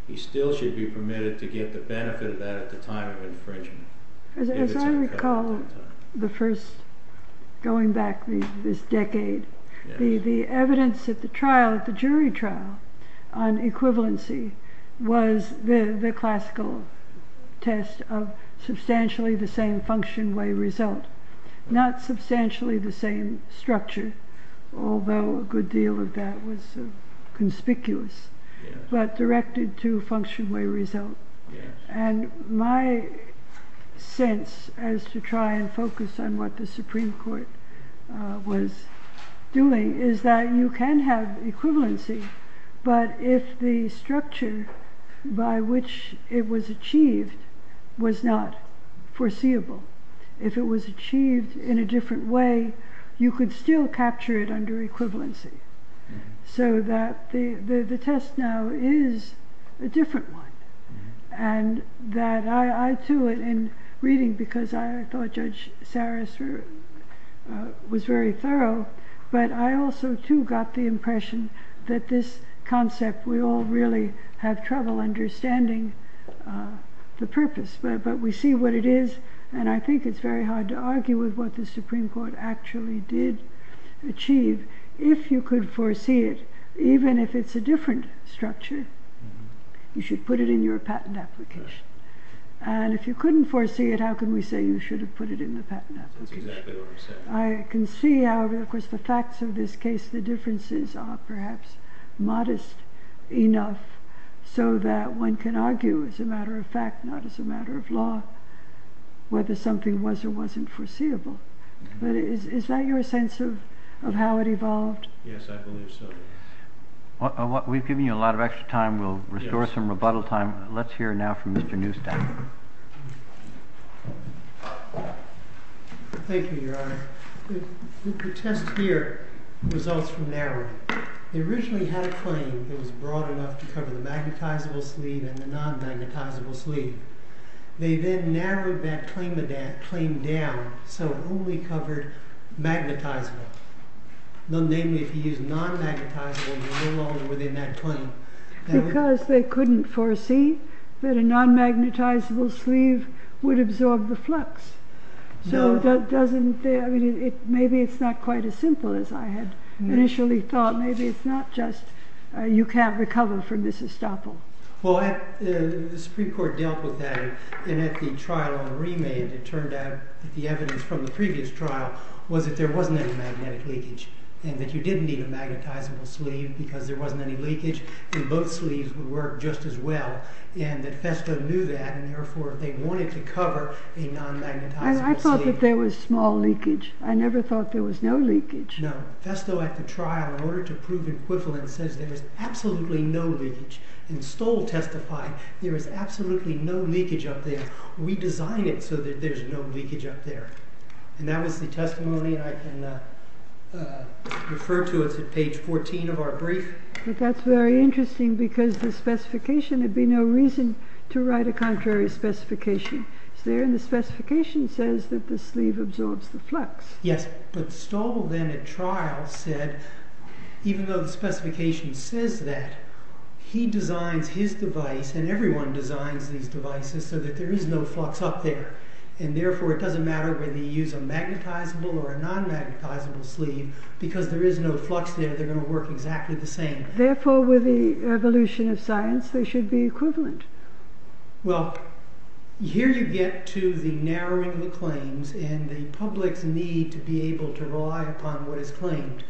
he still should be permitted to get the benefit of that at the time of infringement. As I recall, the first... Going back this decade, the evidence at the trial, the jury trial, on equivalency was the classical test of substantially the same function may result. Not substantially the same structure, although a good deal of that was conspicuous, but directed to function may result. And my sense as to try and focus on what the Supreme Court was doing is that you can have equivalency, but if the structure by which it was achieved was not foreseeable, if it was achieved in a different way, you could still capture it under equivalency. So that the test now is a different one. And that I, too, in reading, because I thought Judge Saras was very thorough, but I also too got the impression that this concept we all really have trouble understanding the purpose. But we see what it is, and I think it's very hard to argue with what the Supreme Court actually did achieve. If you could foresee it, even if it's a different structure, you should put it in your patent application. And if you couldn't foresee it, how can we say you should have put it in the patent application? I can see how, of course, the facts of this case, the differences are perhaps modest enough so that one can argue as a matter of fact, not as a matter of law, whether something was or wasn't foreseeable. But is that your sense of how it evolved? Yes, I think so. We've given you a lot of extra time. We'll restore some rebuttal time. Let's hear now from Mr. Newstown. Thank you, Your Honor. The test here results from narrowing. They originally had a claim that was broad enough to cover the magnetizable sleeve and the non-magnetizable sleeve. They then narrowed that claim down so it only covered magnetizable. Namely, if you use non-magnetizable, you're no longer within that claim. Because they couldn't foresee that a non-magnetizable sleeve would absorb the flux. So maybe it's not quite as simple as I had initially thought. Maybe it's not just you can't recover from this estoppel. Well, the Supreme Court dealt with that. And at the trial on remand, it turned out that the evidence from the previous trial was that there wasn't any magnetic leakage. And that you didn't need a magnetizable sleeve because there wasn't any leakage. And both sleeves would work just as well. And the FESTO knew that, and therefore they wanted to cover a non-magnetizable sleeve. I thought that there was small leakage. I never thought there was no leakage. No. FESTO at the trial, in order to prove equivalence, says there is absolutely no leakage. And Stoll testified there is absolutely no leakage up there. We designed it so that there's no leakage up there. And that is the testimony I can refer to as at page 14 of our brief. That's very interesting because the specification, there'd be no reason to write a contrary specification. The specification says that the sleeve absorbs the flux. Yes, but Stoll then at trial said, even though the specification says that, he designed his device, and everyone designs these devices, so that there is no flux up there. And therefore it doesn't matter whether you use a magnetizable or a non-magnetizable sleeve, because there is no flux there, they're going to work exactly the same. Therefore, with the evolution of science, they should be equivalent. Well, here you get to the narrowing of claims, and the public's need to be able to rely upon what is claimed.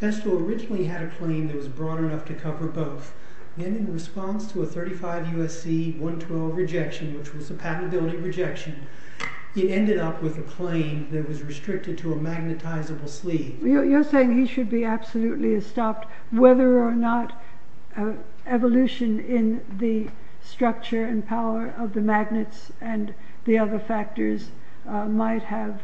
FESTO originally had a claim that was broad enough to cover both. And in response to a 35 U.S.C. 112 rejection, which was a patentability rejection, he ended up with a claim that was restricted to a magnetizable sleeve. You're saying he should be absolutely stopped, whether or not evolution in the structure and power of the magnets and the other factors might have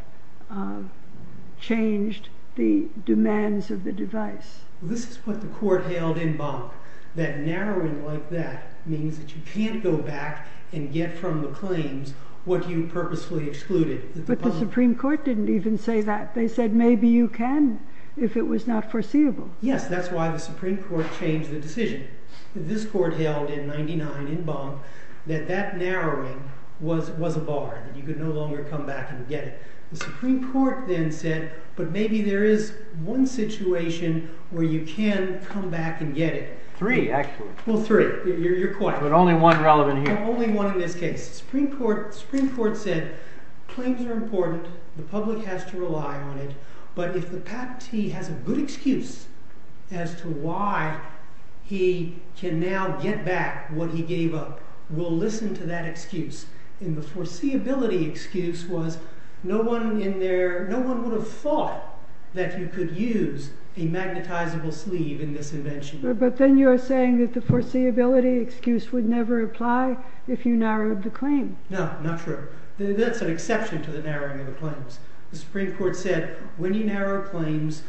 changed the demands of the device. This is what the court held in bond, that narrowing like that means that you can't go back and get from the claims what you purposely excluded. But the Supreme Court didn't even say that. They said maybe you can if it was not foreseeable. Yes, that's why the Supreme Court changed the decision. This court held in 99 in bond that that narrowing was a bar, that you could no longer come back and get it. The Supreme Court then said, but maybe there is one situation where you can come back and get it. Three, actually. Well, three, your point. But only one relevant here. Only one in this case. The Supreme Court said claims are important. The public has to rely on it. But if the patentee has a good excuse as to why he can now get back what he gave up, we'll listen to that excuse. And the foreseeability excuse was no one in there, no one would have thought that you could use a magnetizable sleeve in this invention. But then you are saying that the foreseeability excuse would never apply if you narrowed the claim. No, not true. That's an exception to the narrowing of the claims. The Supreme Court said when you narrow claims,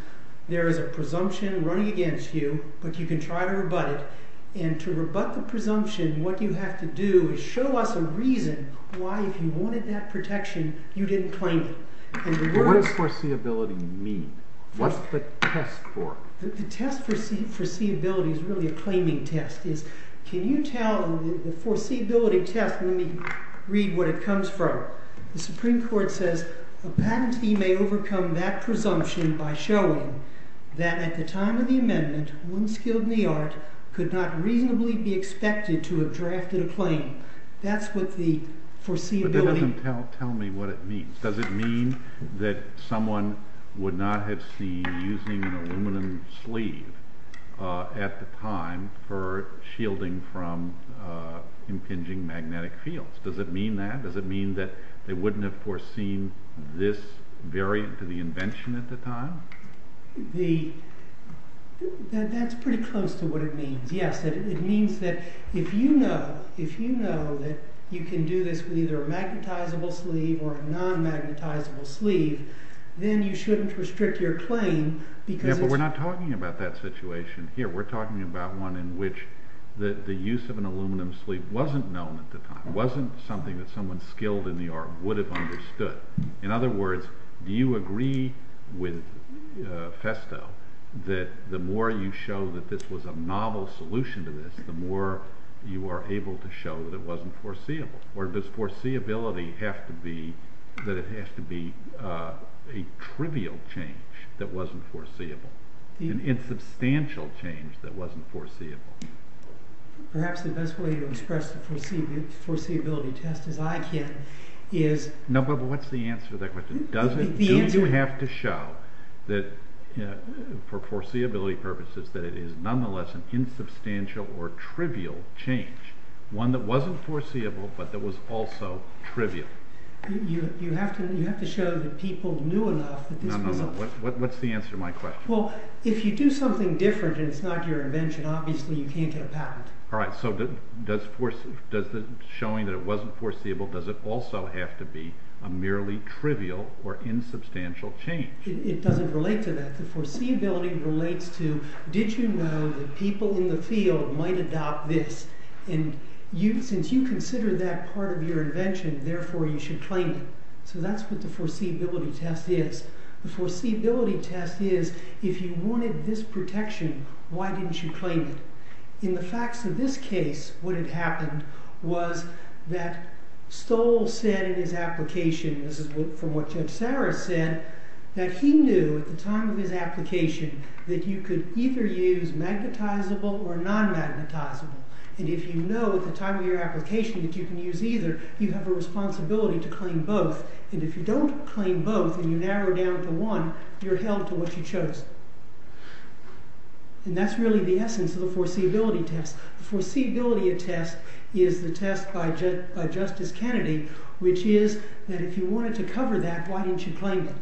there is a presumption running against you, but you can try to rebut it. And to rebut the presumption, what you have to do is show us a reason why if you wanted that protection, you didn't claim it. What does foreseeability mean? What's the test for? The test for foreseeability is really a claiming test. Can you tell the foreseeability test when you read what it comes from? The Supreme Court says a patentee may overcome that presumption by showing that at the time of the amendment, one skilled in the arts could not reasonably be expected to have drafted a claim. That's what the foreseeability test is. Tell me what it means. Does it mean that someone would not have seen using an aluminum sleeve at the time for shielding from impinging magnetic fields? Does it mean that? Does it mean that they wouldn't have foreseen this variant of the invention at the time? That's pretty close to what it means, yes. It means that if you know that you can do this with either a magnetizable sleeve or a non-magnetizable sleeve, then you shouldn't restrict your claim because... Yeah, but we're not talking about that situation here. We're talking about one in which the use of an aluminum sleeve wasn't known at the time, wasn't something that someone skilled in the art would have understood. In other words, do you agree with Festo that the more you show that this was a novel solution to this, the more you are able to show that it wasn't foreseeable? Or does foreseeability have to be a trivial change that wasn't foreseeable, an insubstantial change that wasn't foreseeable? Perhaps the best way to express the foreseeability test that I get is... No, but what's the answer there? Do you have to show that, for foreseeability purposes, that it is nonetheless an insubstantial or trivial change, one that wasn't foreseeable but that was also trivial? You have to show that people knew enough... No, no, no. What's the answer to my question? Well, if you do something different and it's not your invention, obviously you can't get a patent. All right, so does showing that it wasn't foreseeable, does it also have to be a merely trivial or insubstantial change? It doesn't relate to that. The foreseeability relates to, did you know that people in the field might adopt this? And since you consider that part of your invention, therefore you should claim it. So that's what the foreseeability test is. The foreseeability test is, if you wanted this protection, why didn't you claim it? In the facts of this case, what had happened was that Stoll said in his application, this is from what Ted Starr had said, that he knew at the time of his application that you could either use magnetizable or non-magnetizable. And if you know at the time of your application that you can use either, you have a responsibility to claim both. And if you don't claim both and you narrow down to one, you're held to what you chose. And that's really the essence of the foreseeability test. The foreseeability test is the test by Justice Kennedy, which is that if you wanted to cover that, why didn't you claim it?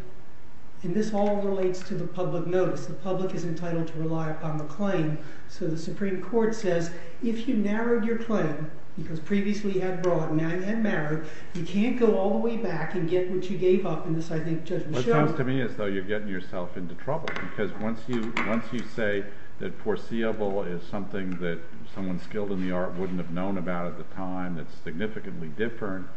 And this all relates to the public notice. The public is entitled to rely upon the claim. So the Supreme Court says, if you narrowed your claim, because previously you had broadened and narrowed, you can't go all the way back and get what you gave up. It sounds to me as though you're getting yourself into trouble. Because once you say that foreseeable is something that someone skilled in the art wouldn't have known about at the time, that's significantly different,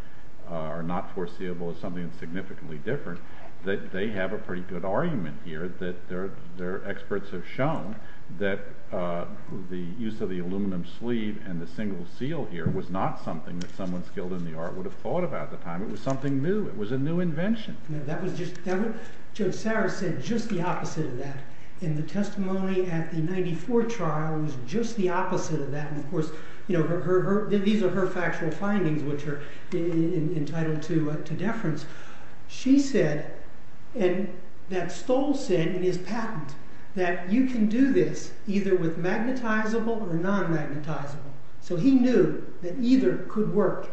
or not foreseeable is something that's significantly different, they have a pretty good argument here that their experts have shown that the use of the aluminum sleeve and the single seal here was not something that someone skilled in the art would have thought about at the time. It was something new. It was a new invention. That was just, Joe Sarris said just the opposite of that. And the testimony at the 1994 trial was just the opposite of that. And of course, these are her factual findings which are entitled to deference. She said, and that Stoll said in his patent, that you can do this either with magnetizable or non-magnetizable. So he knew that either could work.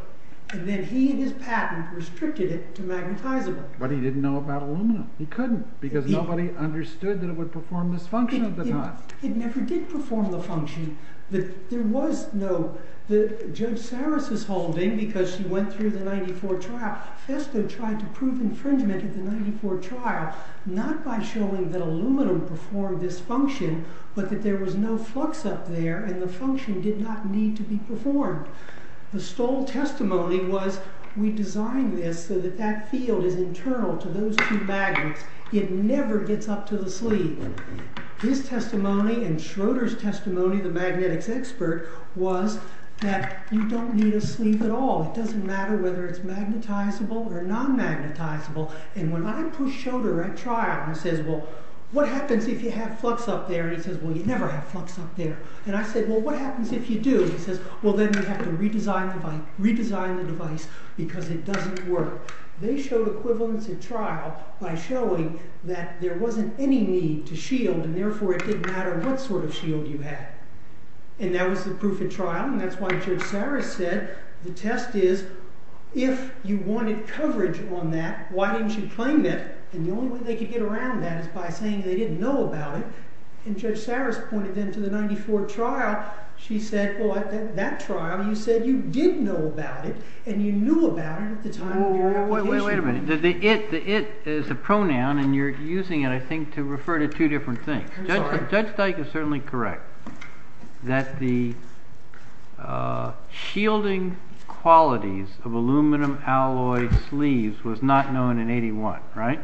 And then he, in his patent, restricted it to magnetizable. But he didn't know about aluminum. He couldn't. Because nobody understood that it would perform this function at the time. It never did perform the function. There was, though, Joe Sarris' holding, because she went through the 1994 trial, Sestak tried to prove infringement at the 1994 trial, not by showing that aluminum performed this function, but that there was no flux up there and the function did not need to be performed. The Stoll testimony was, we designed this so that that field is internal to those two magnets. It never gets up to the sleeve. His testimony and Schroeder's testimony, the magnetics expert, was that you don't need a sleeve at all. It doesn't matter whether it's magnetizable or non-magnetizable. And when I pushed Schroeder at trial, I said, well, what happens if you have flux up there? And he said, well, you never have flux up there. And I said, well, what happens if you do? And he said, well, then you have to redesign the device because it doesn't work. They showed equivalence at trial by showing that there wasn't any need to shield, and therefore it didn't matter what sort of shield you had. And that was the proof at trial, and that's why Joe Sarris said the test is, if you wanted coverage on that, why didn't you claim that? And the only way they could get around that is by saying they didn't know about it. And Joe Sarris pointed into the 1994 trial. She said, well, at that trial, he said you did know about it, and you knew about it at the time. Wait a minute. The it is a pronoun, and you're using it, I think, to refer to two different things. Judge Steig is certainly correct that the shielding qualities of aluminum alloy sleeves was not known in 81, right?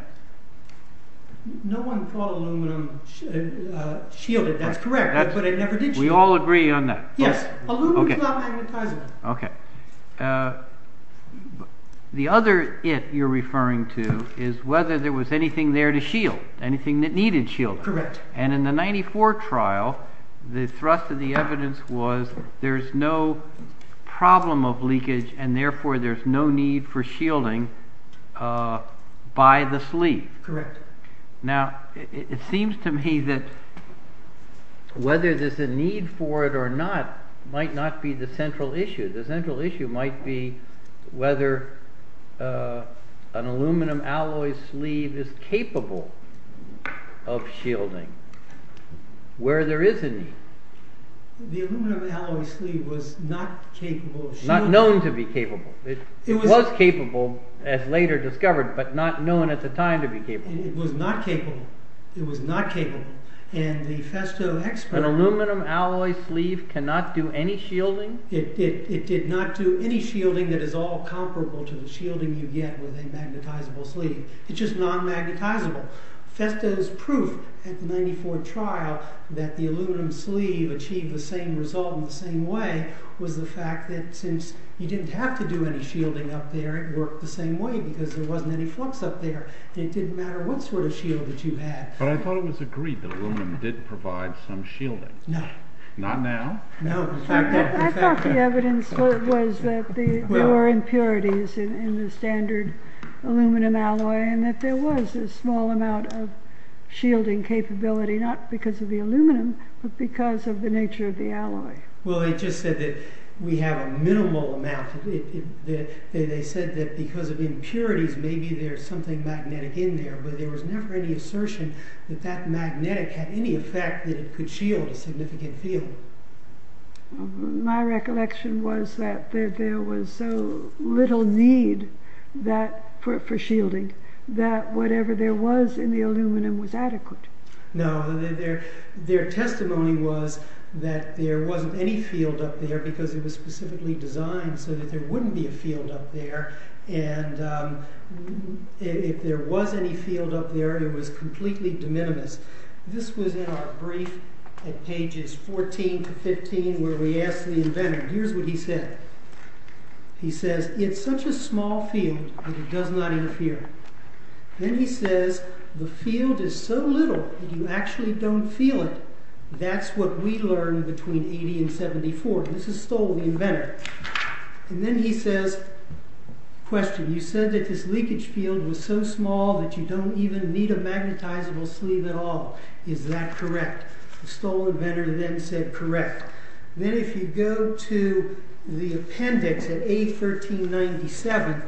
No one called aluminum shielded. That's correct. That's what I never did show. We all agree on that. Yes. Okay. Okay. The other it you're referring to is whether there was anything there to shield, anything that needed shielding. Correct. And in the 94 trial, the thrust of the evidence was there's no problem of leakage, and therefore there's no need for shielding by the sleeve. Correct. Now, it seems to me that whether there's a need for it or not might not be the central issue. The central issue might be whether an aluminum alloy sleeve is capable of shielding where there is a need. It's not known to be capable. It was capable as later discovered, but not known at the time to be capable. It was not capable. It was not capable. And the Festo expert… An aluminum alloy sleeve cannot do any shielding? It did not do any shielding that is all comparable to the shielding you get with a magnetizable sleeve. It's just non-magnetizable. Festo's proof at the 94 trial that the aluminum sleeve achieved the same result in the same way was the fact that since you didn't have to do any shielding up there, it worked the same way because there wasn't any flux up there. It didn't matter what sort of shield that you had. But I thought it was agreed that aluminum did provide some shielding. No. Not now? No. I thought the evidence was that there were impurities in the standard aluminum alloy and that there was a small amount of shielding capability, not because of the aluminum, but because of the nature of the alloy. Well, they just said that we have a minimal amount. They said that because of impurities, maybe there's something magnetic in there, but there was never any assertion that that magnetic had any effect that it could shield a significant field. My recollection was that there was so little need for shielding that whatever there was in the aluminum was adequate. No. Their testimony was that there wasn't any field up there because it was specifically designed so that there wouldn't be a field up there. And if there was any field up there, it was completely de minimis. This was in our brief at pages 14 to 15 where we asked the inventor. Here's what he said. He says, it's such a small field, but it does not interfere. Then he says, the field is so little that you actually don't feel it. That's what we learned between 80 and 74. This is told to the inventor. And then he says, question, you said that this leakage field was so small that you don't even need a magnetizable sleeve at all. Is that correct? The stolen inventor then said, correct. Then if you go to the appendix at A1397,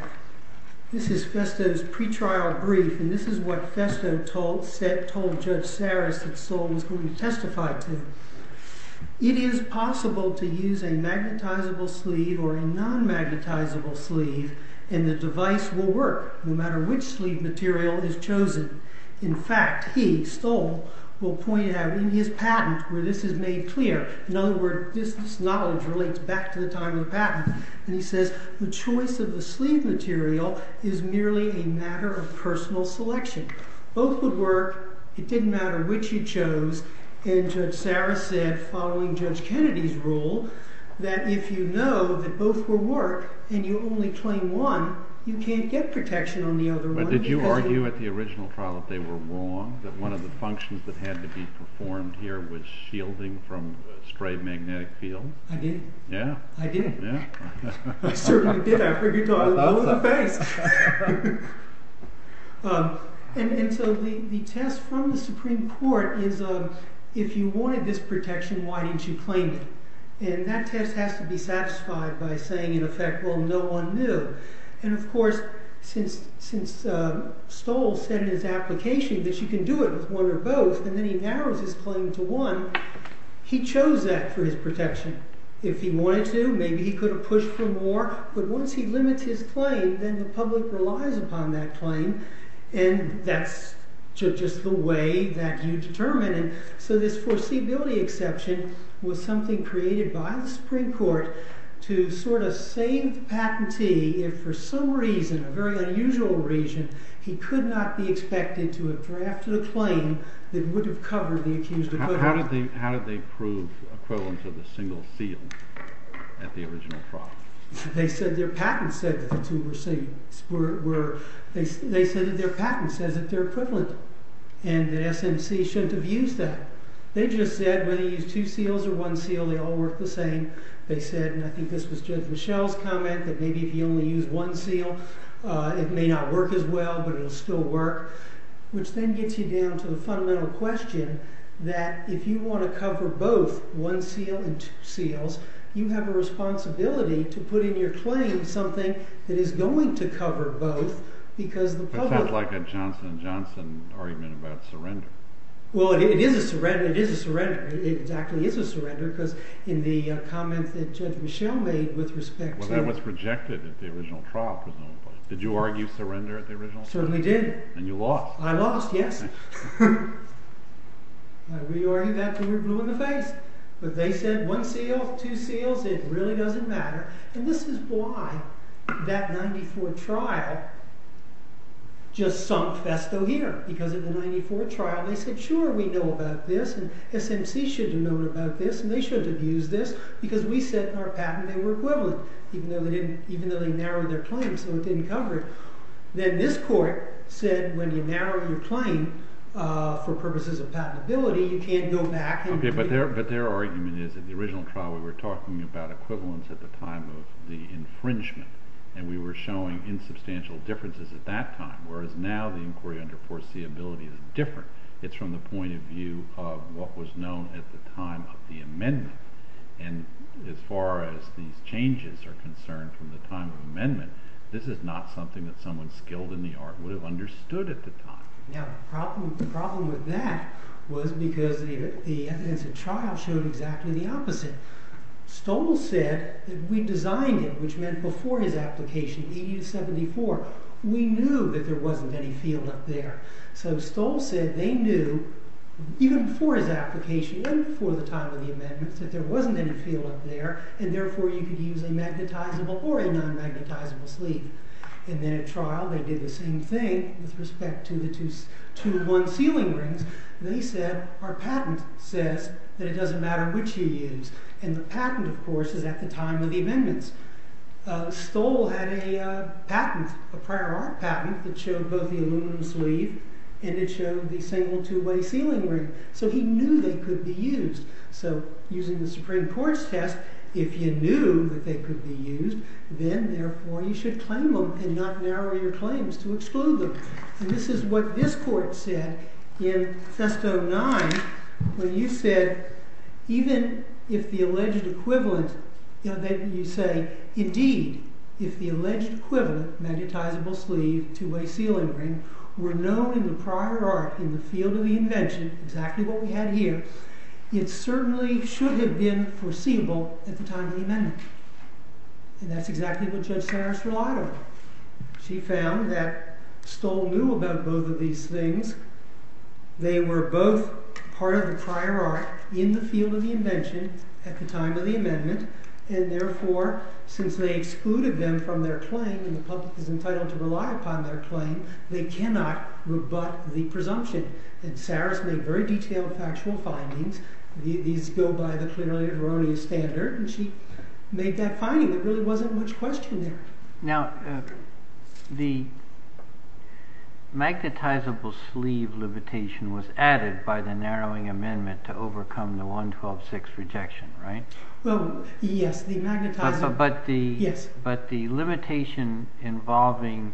this is Festo's pre-trial brief. And this is what Festo told Judge Saris, the stolen who he testified to. It is possible to use a magnetizable sleeve or a non-magnetizable sleeve, and the device will work. No matter which sleeve material is chosen. In fact, he, Stoll, will point out in his patent where this is made clear. In other words, this knowledge relates back to the time of patent. And he says, the choice of the sleeve material is merely a matter of personal selection. Both would work. It didn't matter which you chose. And Judge Saris said, following Judge Kennedy's rule, that if you know that both will work and you only claim one, you can't get protection on the other one. But did you argue at the original trial that they were wrong? That one of the functions that had to be performed here was shielding from stray magnetic field? I did. Yeah? I did. I figured you'd go, I love the patent. And so the test from the Supreme Court is, if you wanted this protection, why didn't you claim it? And that test has to be satisfied by saying, in effect, well, no one knew. And of course, since Stoll said in his application that you can do it with one or both, and then he narrows his claim to one, he chose that for his protection. If he wanted to, maybe he could have pushed for more. But once he limits his claim, then the public relies upon that claim. And that's just the way that you determine it. So this foreseeability exception was something created by the Supreme Court to sort of save patentee if, for some reason, a very unusual reason, he could not be expected to have drafted a claim that would have covered the accused opponent. How did they prove equivalent to the single seal at the original trial? They said their patent said that the two were single. They said that their patent said that they're equivalent. And the SNC shouldn't have used that. They just said when you use two seals or one seal, they all work the same. They said, and I think this was just Michelle's comment, that maybe if you only use one seal, it may not work as well, but it'll still work. Which then gets you down to the fundamental question that if you want to cover both one seal and two seals, you have a responsibility to put in your claim something that is going to cover both because the public. That sounds like a Johnson & Johnson argument about surrender. Well, it is a surrender. It is a surrender. It exactly is a surrender because in the comment that Michelle made with respect to it. Well, that was rejected at the original trial. Did you argue surrender at the original trial? Certainly did. And you lost. I lost, yes. I re-argued that until it blew in the face. But they said one seal, two seals, it really doesn't matter. And this is why that 94 trial just sunk Festo here because of the 94 trial. And they said, sure, we know about this. And SNC should know about this. And they should have used this because we said in our patent they were equivalent, even though they narrowed their claims. They were getting coverage. Then this court said when you narrow your claim for purposes of patentability, you can't go back. But their argument is that the original trial, we were talking about equivalence at the time of the infringement. And we were showing insubstantial differences at that time, whereas now the inquiry under foreseeability is different. It's from the point of view of what was known at the time of the amendment. And as far as these changes are concerned from the time of amendment, this is not something that someone skilled in the art would have understood at the time. Now, the problem with that was because the evidence at trial showed exactly the opposite. Stoll said that we designed it, which meant before his application, 1874, we knew that there wasn't any field up there. So Stoll said they knew, even before his application and before the time of the amendment, that there wasn't any field up there. And therefore, you could use a magnetizable or a non-magnetizable sleeve. And then at trial, they did the same thing with respect to the one sealing ring. And they said, our patent says that it doesn't matter which you use. And the patent, of course, is at the time of the amendment. Stoll had a patent, a prior art patent, that showed both the aluminum sleeve and it showed the single two-way sealing ring. So he knew they could be used. So using the Supreme Court's test, if you knew that they could be used, then, therefore, you should claim them and not narrow your claims to exclude them. And this is what this court said in Sesto 9 when you said, even if the alleged equivalent, you say, indeed, if the alleged equivalent, magnetizable sleeve, two-way sealing ring, were known in the prior art in the field of the invention, exactly what we have here, it certainly should have been foreseeable at the time of the amendment. And that's exactly what Judge Harris relied on. She found that Stoll knew about both of these things. They were both part of the prior art in the field of the invention at the time of the amendment. And, therefore, since they excluded them from their claim and the public is entitled to rely upon their claim, they cannot rebut the presumption. And Harris made very detailed factual findings. These go by the clearly erroneous standard. And she made that finding. There really wasn't much question there. Now, the magnetizable sleeve limitation was added by the narrowing amendment to overcome the 112-6 rejection, right? Well, yes. But the limitation involving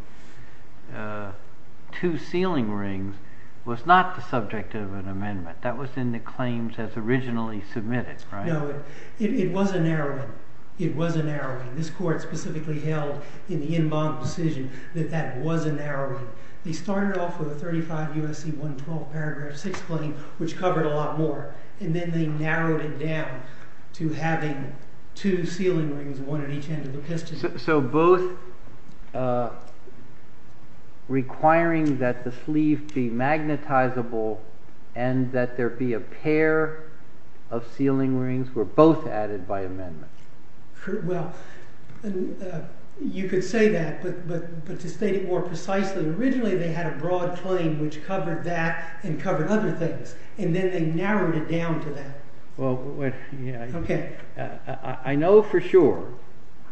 two sealing rings was not the subject of an amendment. That was in the claims as originally submitted, right? No. It was a narrowing. It was a narrowing. And this court specifically held in the in bond decision that that was a narrowing. They started off with a 35 UNC 112 paragraph 6 claim, which covered a lot more. And then they narrowed it down to having two sealing rings, one on each end of the piston. So both requiring that the sleeve be magnetizable and that there be a pair of sealing rings were both added by amendment. Well, you could say that. But to state more precisely, originally they had a broad claim which covered that and covered other things. And then they narrowed it down to that. I know for sure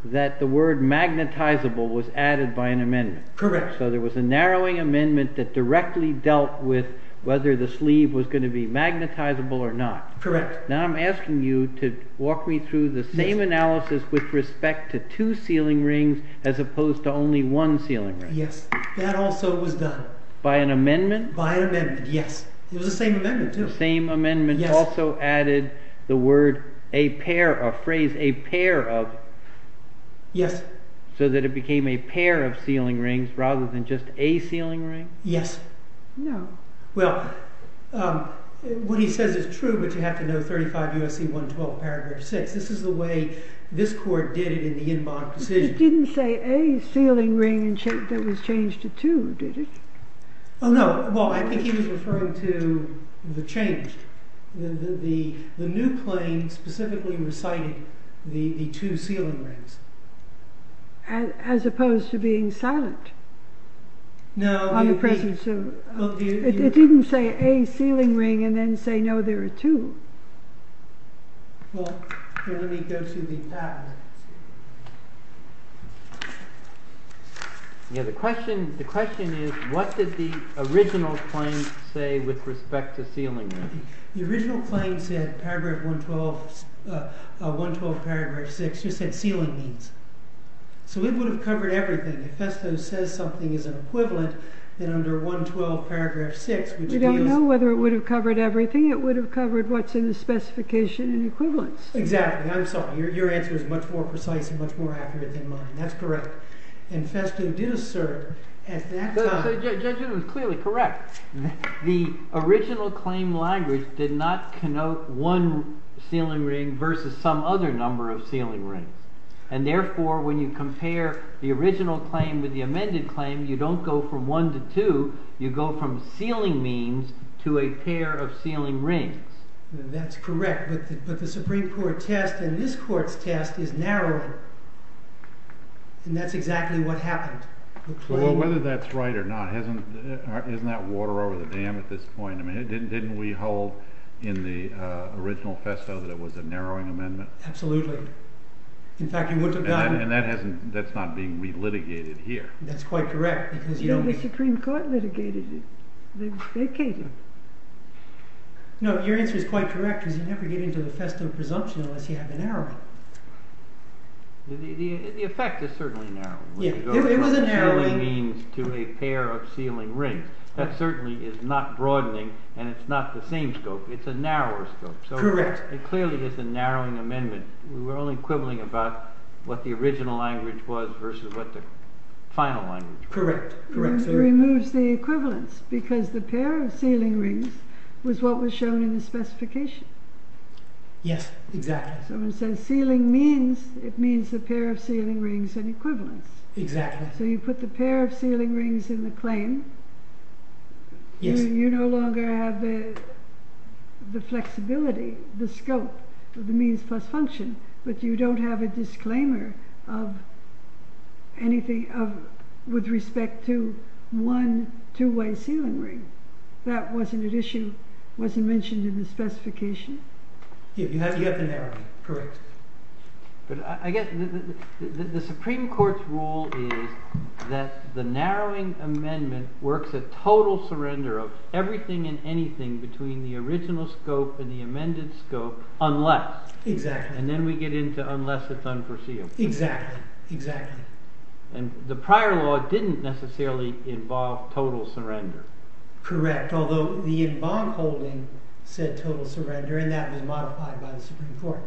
that the word magnetizable was added by an amendment. Correct. So there was a narrowing amendment that directly dealt with whether the sleeve was going to be magnetizable or not. Correct. Now I'm asking you to walk me through the same analysis with respect to two sealing rings as opposed to only one sealing ring. Yes. That also was done. By an amendment? By an amendment, yes. It was the same amendment, too. The same amendment also added the word a pair of, phrase a pair of. Yes. So that it became a pair of sealing rings rather than just a sealing ring? Yes. No. Well, what he said is true. But you have to know 35 U.S.C. 112, Paragraph 6. This is the way this court did it in the In Bond Procedure. It didn't say a sealing ring that was changed to two, did it? Oh, no. Well, I think he was referring to the change. The new claim specifically recited the two sealing rings. As opposed to being silent. No. In the presence of. It didn't say a sealing ring and then say, No, there are two. Well, let me go to the path. Yes, the question is, what did the original claim say with respect to sealing rings? The original claim said, Paragraph 112, Paragraph 6, just said sealing rings. So it would have covered everything. If Festo says something is an equivalent, then under 112, Paragraph 6. We don't know whether it would have covered everything. It would have covered what's in the specification and equivalents. Exactly. Your answer is much more precise and much more accurate than mine. That's correct. And Festo did assert at that time. Judge, it was clearly correct. The original claim language did not connote one sealing ring versus some other number of sealing rings. And therefore, when you compare the original claim with the amended claim, you don't go from one to two. You go from sealing means to a pair of sealing rings. That's correct. But the Supreme Court test and this court's test is narrower. And that's exactly what happened. Well, whether that's right or not, isn't that water over the dam at this point? Didn't we hold in the original Festo that it was a narrowing amendment? Absolutely. In fact, you wouldn't have gotten it. And that's not being relitigated here. That's quite correct. The Supreme Court litigated it. They vacated it. No, your answer is quite correct. You're never getting to the Festo presumption unless you have a narrowing. The effect is certainly narrow. It was a narrowing. You go from sealing means to a pair of sealing rings. That certainly is not broadening. And it's not the same scope. It's a narrower scope. Correct. So clearly, it's a narrowing amendment. We're only quibbling about what the original language was versus what the final language was. Correct. It removes the equivalence, because the pair of sealing rings was what was shown in the specification. Yes, exactly. So instead of sealing means, it means a pair of sealing rings and equivalence. Exactly. So you put the pair of sealing rings in the claim. You no longer have the flexibility, the scope, the means plus function, but you don't have a disclaimer of anything with respect to one two-way sealing ring. That was an addition. It wasn't mentioned in the specification. Yes, you have to narrow it. Correct. But again, the Supreme Court's rule is that the narrowing amendment works a total surrender of everything and anything between the original scope and the amended scope unless. Exactly. And then we get into unless it's unforeseen. Exactly. Exactly. And the prior law didn't necessarily involve total surrender. Correct. Although the bond holding said total surrender, and that was modified by the Supreme Court.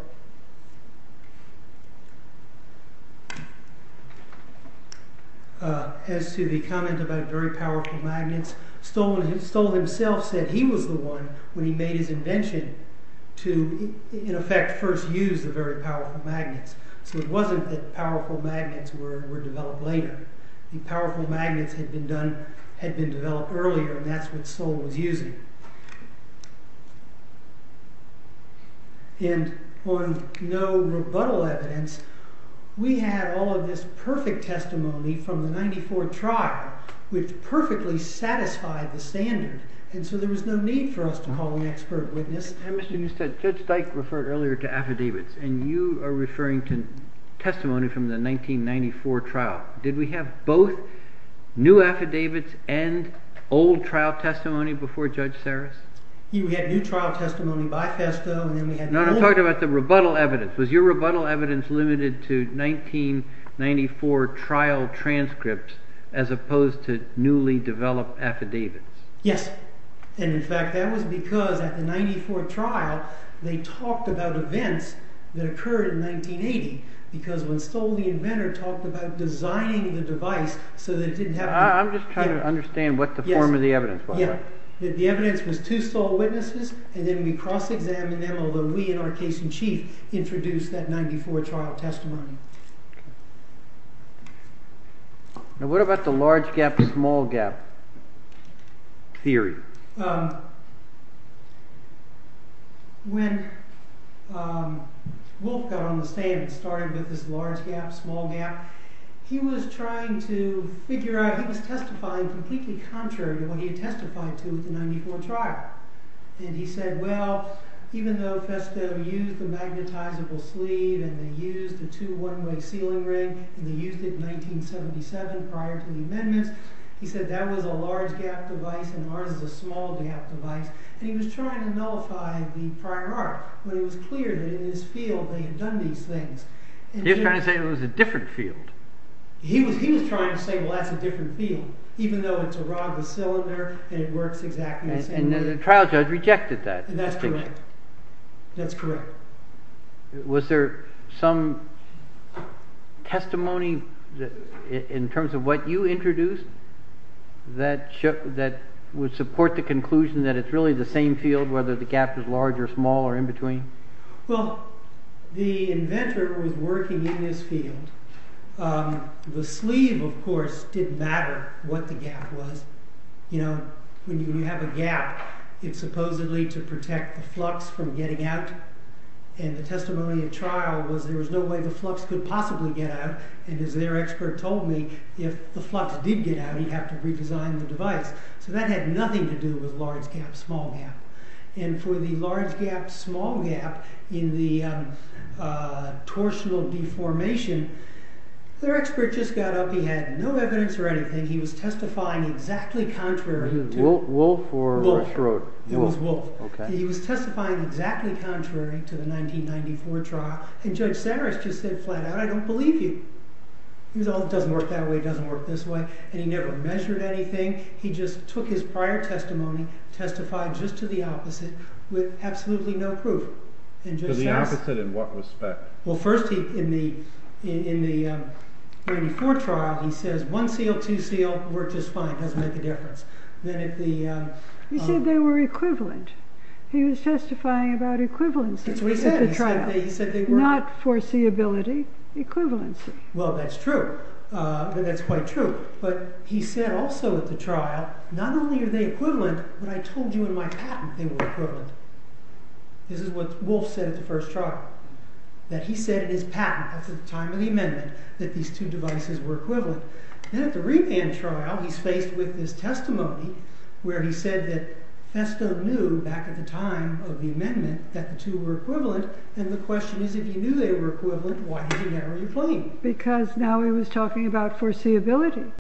As to the comment about very powerful magnets, Stoll himself said he was the one when he made his invention to, in effect, first use the very powerful magnets. So it wasn't that powerful magnets were developed later. The powerful magnets had been developed earlier, and that's what Stoll was using. And on no rebuttal evidence, we have all of this perfect testimony from the 94th trial, which perfectly satisfied And so there was no need for us to call an expert witness. Mr. Eustice, Judge Steich referred earlier to affidavits, and you are referring to testimony from the 1994 trial. Did we have both new affidavits and old trial testimony before Judge Sarris? You had new trial testimony, by testimony. No, I'm talking about the rebuttal evidence. Was your rebuttal evidence limited to 1994 trial transcripts as opposed to newly developed affidavits? Yes. And in fact, that was because at the 94th trial, they talked about events that occurred in 1980, because when Stoll, the inventor, talked about designing the device so that it didn't have I'm just trying to understand what the form of the evidence was. The evidence was two Stoll witnesses, and then we cross-examined them, although we, in our case in chief, introduced that 94th trial testimony. Now, what about the large gap, small gap theory? When Wolf got on the stand, it started with this large gap, small gap. He was trying to figure out, he was testifying completely contrary to what he testified to at the 94th trial. And he said, well, even though Festo used the magnetizable sleeve, and they used the two witnesses, and they used it in 1977 prior to the amendment, he said that was a large gap device, and ours was a small gap device. And he was trying to nullify the prior art. But it was clear that in this field, they had done these things. He was trying to say it was a different field. He was trying to say, well, that's a different field, even though it's a rod with cylinder, and it works exactly the same way. And then the trial judge rejected that distinction. That's correct. That's correct. Was there some testimony in terms of what you introduced that would support the conclusion that it's really the same field, whether the gap is large or small or in between? Well, the inventor was working in this field. The sleeve, of course, didn't matter what the gap was. When you have a gap, it's supposedly to protect the flux from getting out. And the testimony of trial was there was no way the flux could possibly get out. And as their expert told me, if the flux did get out, you'd have to redesign the device. So that had nothing to do with large gap, small gap. And for the large gap, small gap in the torsional deformation, their expert just got up. He had no evidence or anything. He was testifying exactly contrary to the text. Was it Wolfe or Rushrod? It was Wolfe. He was testifying exactly contrary to the 1994 trial. And Judge Sarris just said flat out, I don't believe you. It doesn't work that way. It doesn't work this way. And he never measured anything. He just took his prior testimony, testified just to the opposite, with absolutely no proof. To the opposite in what respect? Well, first, in the 1994 trial, he says one seal, two seal, worked just fine. Doesn't make a difference. He said they were equivalent. He was testifying about equivalency at the trial, not foreseeability, equivalency. Well, that's true. That's quite true. But he said also at the trial, not only are they equivalent, but I told you in my patent they were equivalent. This is what Wolfe said at the first trial, that he said in his patent, at the time of the amendment, that these two devices were equivalent. And at the revamp trial, he's faced with this testimony where he said that Estow knew, back at the time of the amendment, that the two were equivalent. And the question is, if he knew they were equivalent, why didn't he have them replaced? Because now he was talking about foreseeability.